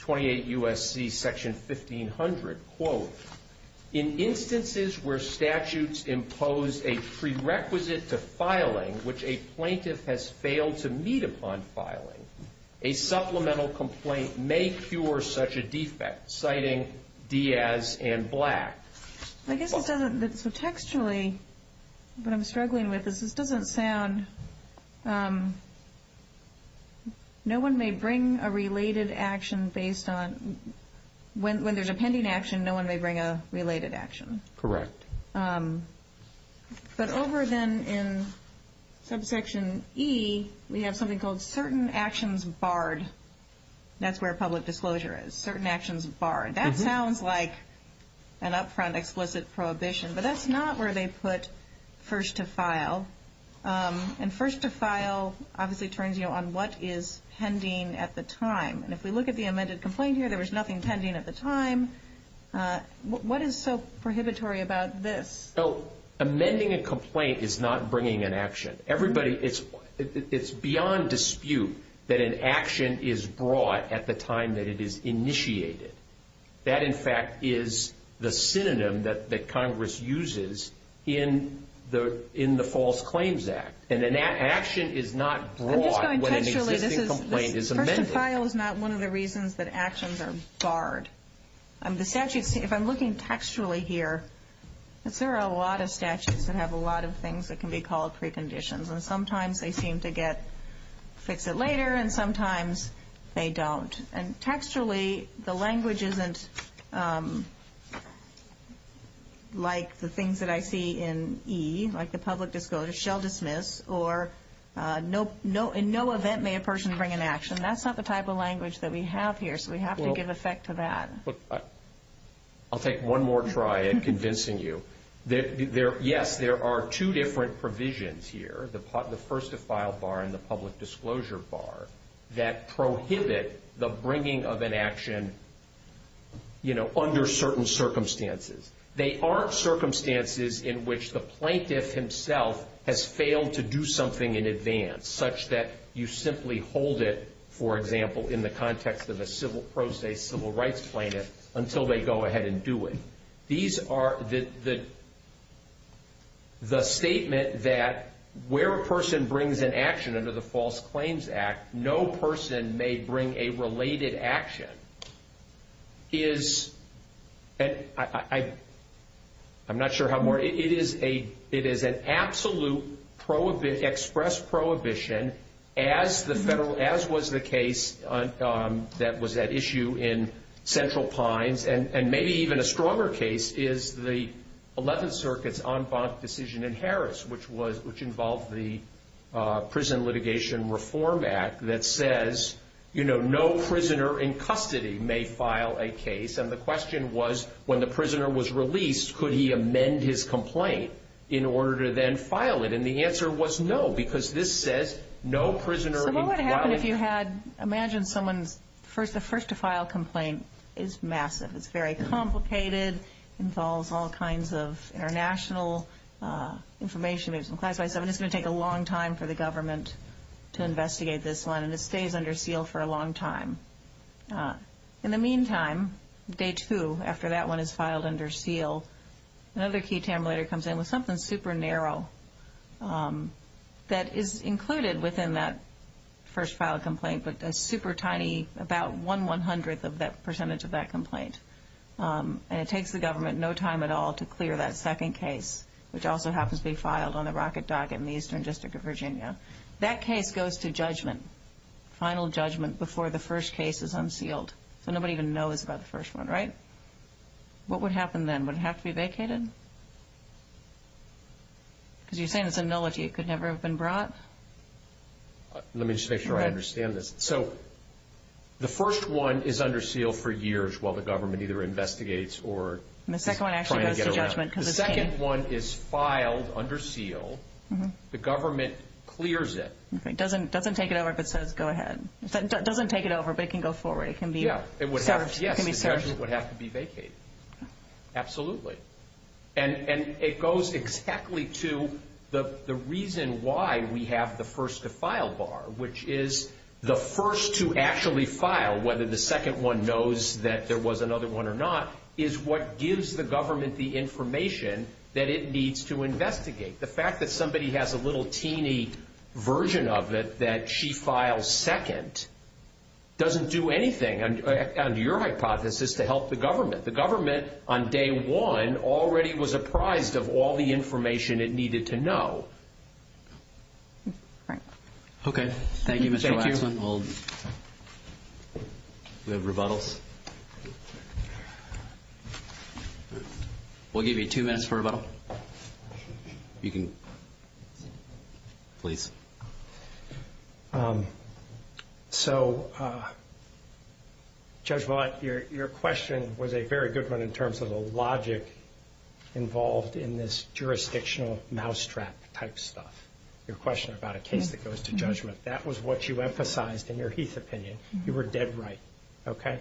28 U.S.C. Section 1500, quote, In instances where statutes impose a prerequisite to filing, which a plaintiff has failed to meet upon filing, a supplemental complaint may cure such a defect, citing Diaz and Black. I guess it doesn't, textually, what I'm struggling with is this doesn't sound, no one may bring a related action based on, when there's a pending action, no one may bring a related action. Correct. But over then in Subsection E, we have something called certain actions barred. That's where public disclosure is, certain actions barred. That sounds like an upfront explicit prohibition, but that's not where they put first to file. And first to file obviously turns you on what is pending at the time. And if we look at the amended complaint here, there was nothing pending at the time. What is so prohibitory about this? Amending a complaint is not bringing an action. Everybody, it's beyond dispute that an action is brought at the time that it is initiated. That, in fact, is the synonym that Congress uses in the False Claims Act. And an action is not brought when an existing complaint is amended. First to file is not one of the reasons that actions are barred. If I'm looking textually here, there are a lot of statutes that have a lot of things that can be called preconditions. And sometimes they seem to get fixed later, and sometimes they don't. And textually, the language isn't like the things that I see in E, like the public disclosure, shall dismiss, or in no event may a person bring an action. That's not the type of language that we have here, so we have to give effect to that. I'll take one more try at convincing you. Yes, there are two different provisions here, the first to file bar and the public disclosure bar, that prohibit the bringing of an action, you know, under certain circumstances. They aren't circumstances in which the plaintiff himself has failed to do something in advance, such that you simply hold it, for example, in the context of a civil process, civil rights claim, until they go ahead and do it. These are the statement that where a person brings an action under the False Claims Act, no person may bring a related action, is, I'm not sure how, it is an absolute express prohibition, and as was the case that was at issue in Central Pines, and maybe even a stronger case, is the 11th Circuit's en banc decision in Harris, which involved the Prison Litigation Reform Act, that says, you know, no prisoner in custody may file a case, and the question was, when the prisoner was released, could he amend his complaint in order to then file it? And the answer was no, because this says, no prisoner in custody. What would happen if you had, imagine someone, the first to file complaint is massive, it's very complicated, involves all kinds of international information, it's going to take a long time for the government to investigate this one, and it stays under seal for a long time. In the meantime, day two, after that one is filed under seal, another key terminator comes in with something super narrow that is included within that first file complaint, but that's super tiny, about one one-hundredth of that percentage of that complaint, and it takes the government no time at all to clear that second case, which also happens to be filed on the Rocket Docket in the Eastern District of Virginia. That case goes to judgment, final judgment before the first case is unsealed. Nobody even knows about the first one, right? What would happen then? Would it have to be vacated? Because you're saying it's a nullity, it could never have been brought? Let me just make sure I understand this. So, the first one is under seal for years while the government either investigates or is trying to get around it. The second one is filed under seal, the government clears it. It doesn't take it over if it says go ahead. It doesn't take it over, but it can go forward. Yeah, it would have to be vacated. Absolutely. And it goes exactly to the reason why we have the first to file bar, which is the first to actually file, whether the second one knows that there was another one or not, is what gives the government the information that it needs to investigate. The fact that somebody has a little teeny version of it that she files second doesn't do anything. Your hypothesis is to help the government. The government on day one already was apprised of all the information it needed to know. Okay. Thank you, Mr. Lackland. Do we have rebuttals? We'll give you two minutes for rebuttal. Please. So, Judge Blatt, your question was a very good one in terms of the logic involved in this jurisdictional mousetrap type stuff. Your question about a case that goes to judgment, that was what you emphasized in your Heath opinion. You were dead right. Okay.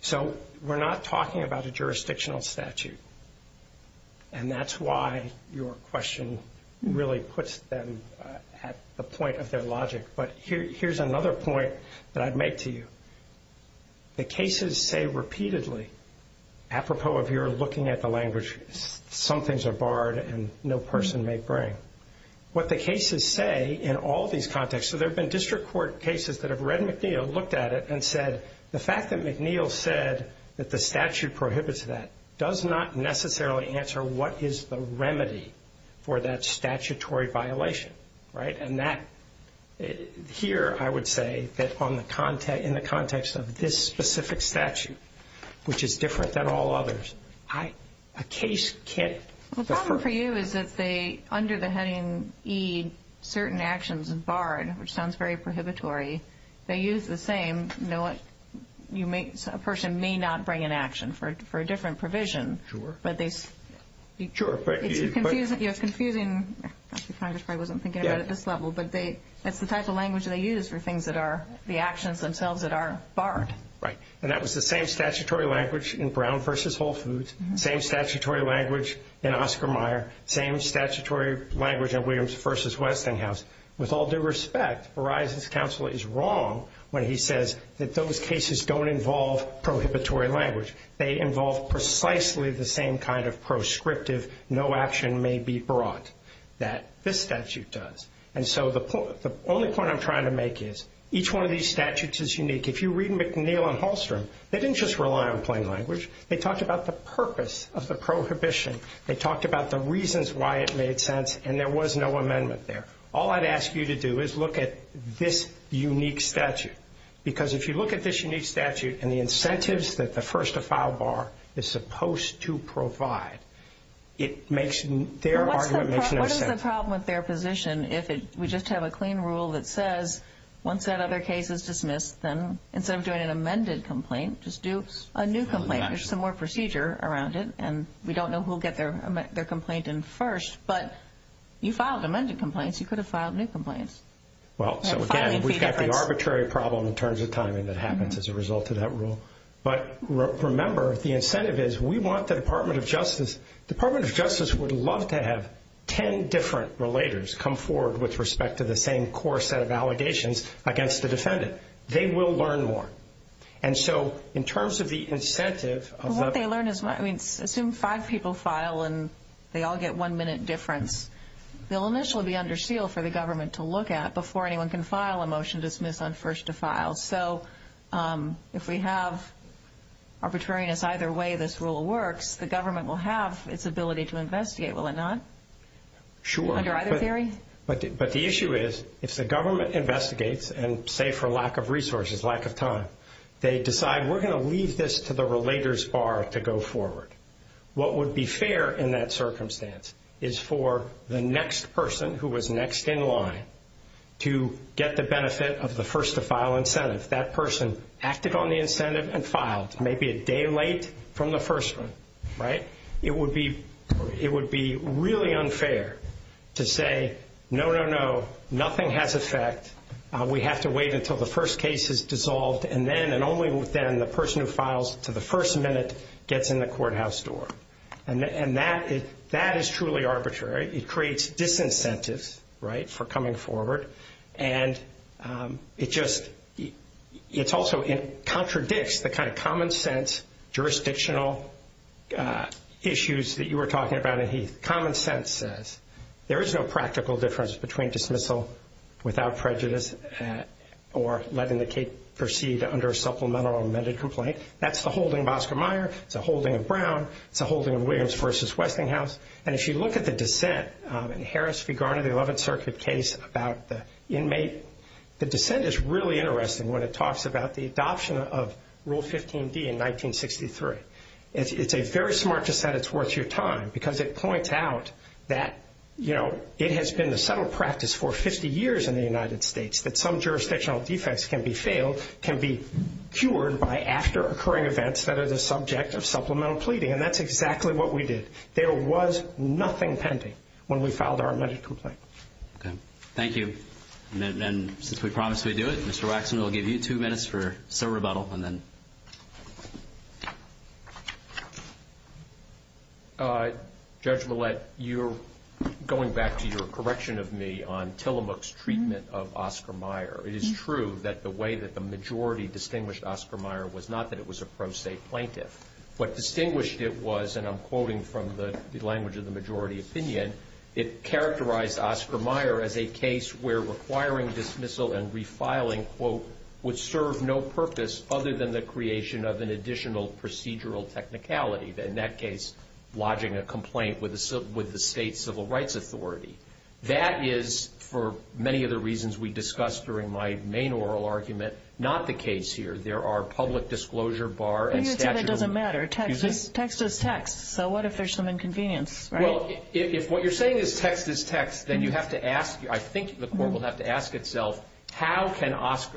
So, we're not talking about a jurisdictional statute. And that's why your question really puts them at the point of their logic. But here's another point that I'd make to you. The cases say repeatedly, apropos of your looking at the language, some things are barred and no person may bring. What the cases say in all these contexts, so there have been district court cases that have read McNeil, you know, looked at it and said the fact that McNeil said that the statute prohibits that does not necessarily answer what is the remedy for that statutory violation, right? And that, here I would say that in the context of this specific statute, which is different than all others, a case can't. The problem for you is that they, under the heading E, certain actions are barred, which sounds very prohibitory. They use the same, you know, a person may not bring an action for a different provision. Sure. But they. Sure, but. It's confusing. Actually, Congressman, I wasn't thinking about it at this level. But that's the type of language they use for things that are the actions themselves that are barred. Right. And that was the same statutory language in Brown versus Whole Foods, same statutory language in Oscar Meyer, same statutory language in Williams versus Westinghouse. With all due respect, Verizon's counsel is wrong when he says that those cases don't involve prohibitory language. They involve precisely the same kind of proscriptive no action may be brought that this statute does. And so the only point I'm trying to make is each one of these statutes is unique. If you read McNeil and Hallstrom, they didn't just rely on plain language. They talked about the purpose of the prohibition. They talked about the reasons why it made sense, and there was no amendment there. All I'd ask you to do is look at this unique statute. Because if you look at this unique statute and the incentives that the first to file bar is supposed to provide, it makes their argument make no sense. What is the problem with their position if we just have a clean rule that says once that other case is dismissed, then instead of doing an amended complaint, just do a new complaint? There's some more procedure around it, and we don't know who will get their complaint in first. But you filed amended complaints. You could have filed new complaints. Well, so again, we've got the arbitrary problem in terms of timing that happens as a result of that rule. But remember, the incentive is we want the Department of Justice. The Department of Justice would love to have ten different relatives come forward with respect to the same core set of allegations against the defendant. They will learn more. And so in terms of the incentive of the ---- What they learn is, I mean, assume five people file and they all get one minute difference. They'll initially be under seal for the government to look at before anyone can file a motion to dismiss on first to file. So if we have arbitrariness either way this rule works, the government will have its ability to investigate, will it not? Sure. Under either theory? But the issue is if the government investigates and say for lack of resources, lack of time, they decide we're going to leave this to the relators bar to go forward. What would be fair in that circumstance is for the next person who was next in line to get the benefit of the first to file incentive. That person acted on the incentive and filed maybe a day late from the first one, right? It would be really unfair to say, no, no, no, nothing has effect. We have to wait until the first case is dissolved and then and only then the person who files to the first minute gets in the courthouse door. And that is truly arbitrary. It creates disincentives, right, for coming forward. And it just also contradicts the kind of common sense jurisdictional issues that you were talking about. Common sense says there is no practical difference between dismissal without prejudice or letting the case proceed under a supplemental amended complaint. That's the holding of Oscar Meyer, it's a holding of Brown, it's a holding of Williams v. Westinghouse. And if you look at the dissent in Harris v. Garner, the 11th Circuit case about the inmate, the dissent is really interesting when it talks about the adoption of Rule 15B in 1963. It's very smart to say it's worth your time because it points out that, you know, it has been a settled practice for 50 years in the United States that some jurisdictional defects can be failed, can be cured by after occurring events that are the subject of supplemental pleading. And that's exactly what we did. There was nothing pending when we filed our amended complaint. Okay. Thank you. Thank you. And since we promised we'd do it, Mr. Waxman, I'll give you two minutes for a rebuttal and then. Judge Millett, you're going back to your correction of me on Tillamook's treatment of Oscar Meyer. It is true that the way that the majority distinguished Oscar Meyer was not that it was a pro-state plaintiff. What distinguished it was, and I'm quoting from the language of the majority opinion, it characterized Oscar Meyer as a case where requiring dismissal and refiling, quote, would serve no purpose other than the creation of an additional procedural technicality, in that case lodging a complaint with the state civil rights authority. That is, for many of the reasons we discussed during my main oral argument, not the case here. There are public disclosure bar and statute. But you said it doesn't matter. Text is text. So what if there's some inconvenience, right? Well, if what you're saying is text is text, then you have to ask, I think the court will have to ask itself, how can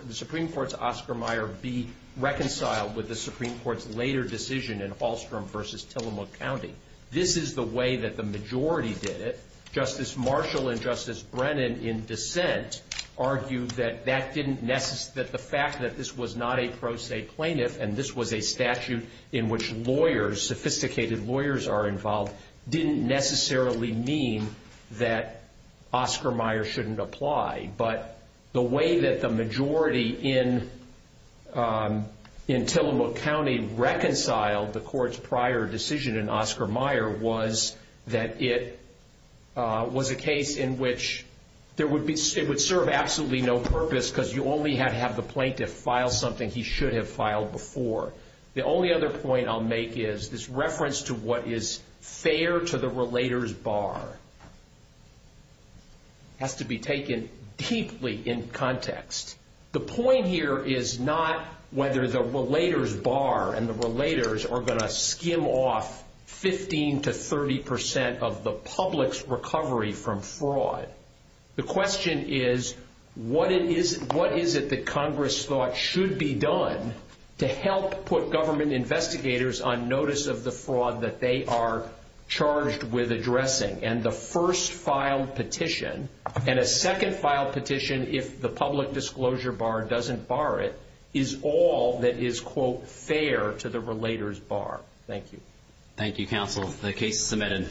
the Supreme Court's Oscar Meyer be reconciled with the Supreme Court's later decision in Hallstrom versus Tillamook County? This is the way that the majority did it. Justice Marshall and Justice Brennan, in dissent, argued that the fact that this was not a pro-state plaintiff and this was a statute in which lawyers, sophisticated lawyers are involved, didn't necessarily mean that Oscar Meyer shouldn't apply. But the way that the majority in Tillamook County reconciled the court's prior decision in Oscar Meyer was that it was a case in which it would serve absolutely no purpose because you only had to have the plaintiff file something he should have filed before. The only other point I'll make is this reference to what is fair to the relators bar has to be taken deeply in context. The point here is not whether the relators bar and the relators are going to skim off 15% to 30% of the public's recovery from fraud. The question is what is it that Congress thought should be done to help put government investigators on notice of the fraud that they are charged with addressing? And the first filed petition and a second filed petition, if the public disclosure bar doesn't bar it, is all that is, quote, fair to the relators bar. Thank you. Thank you, counsel. The case is submitted.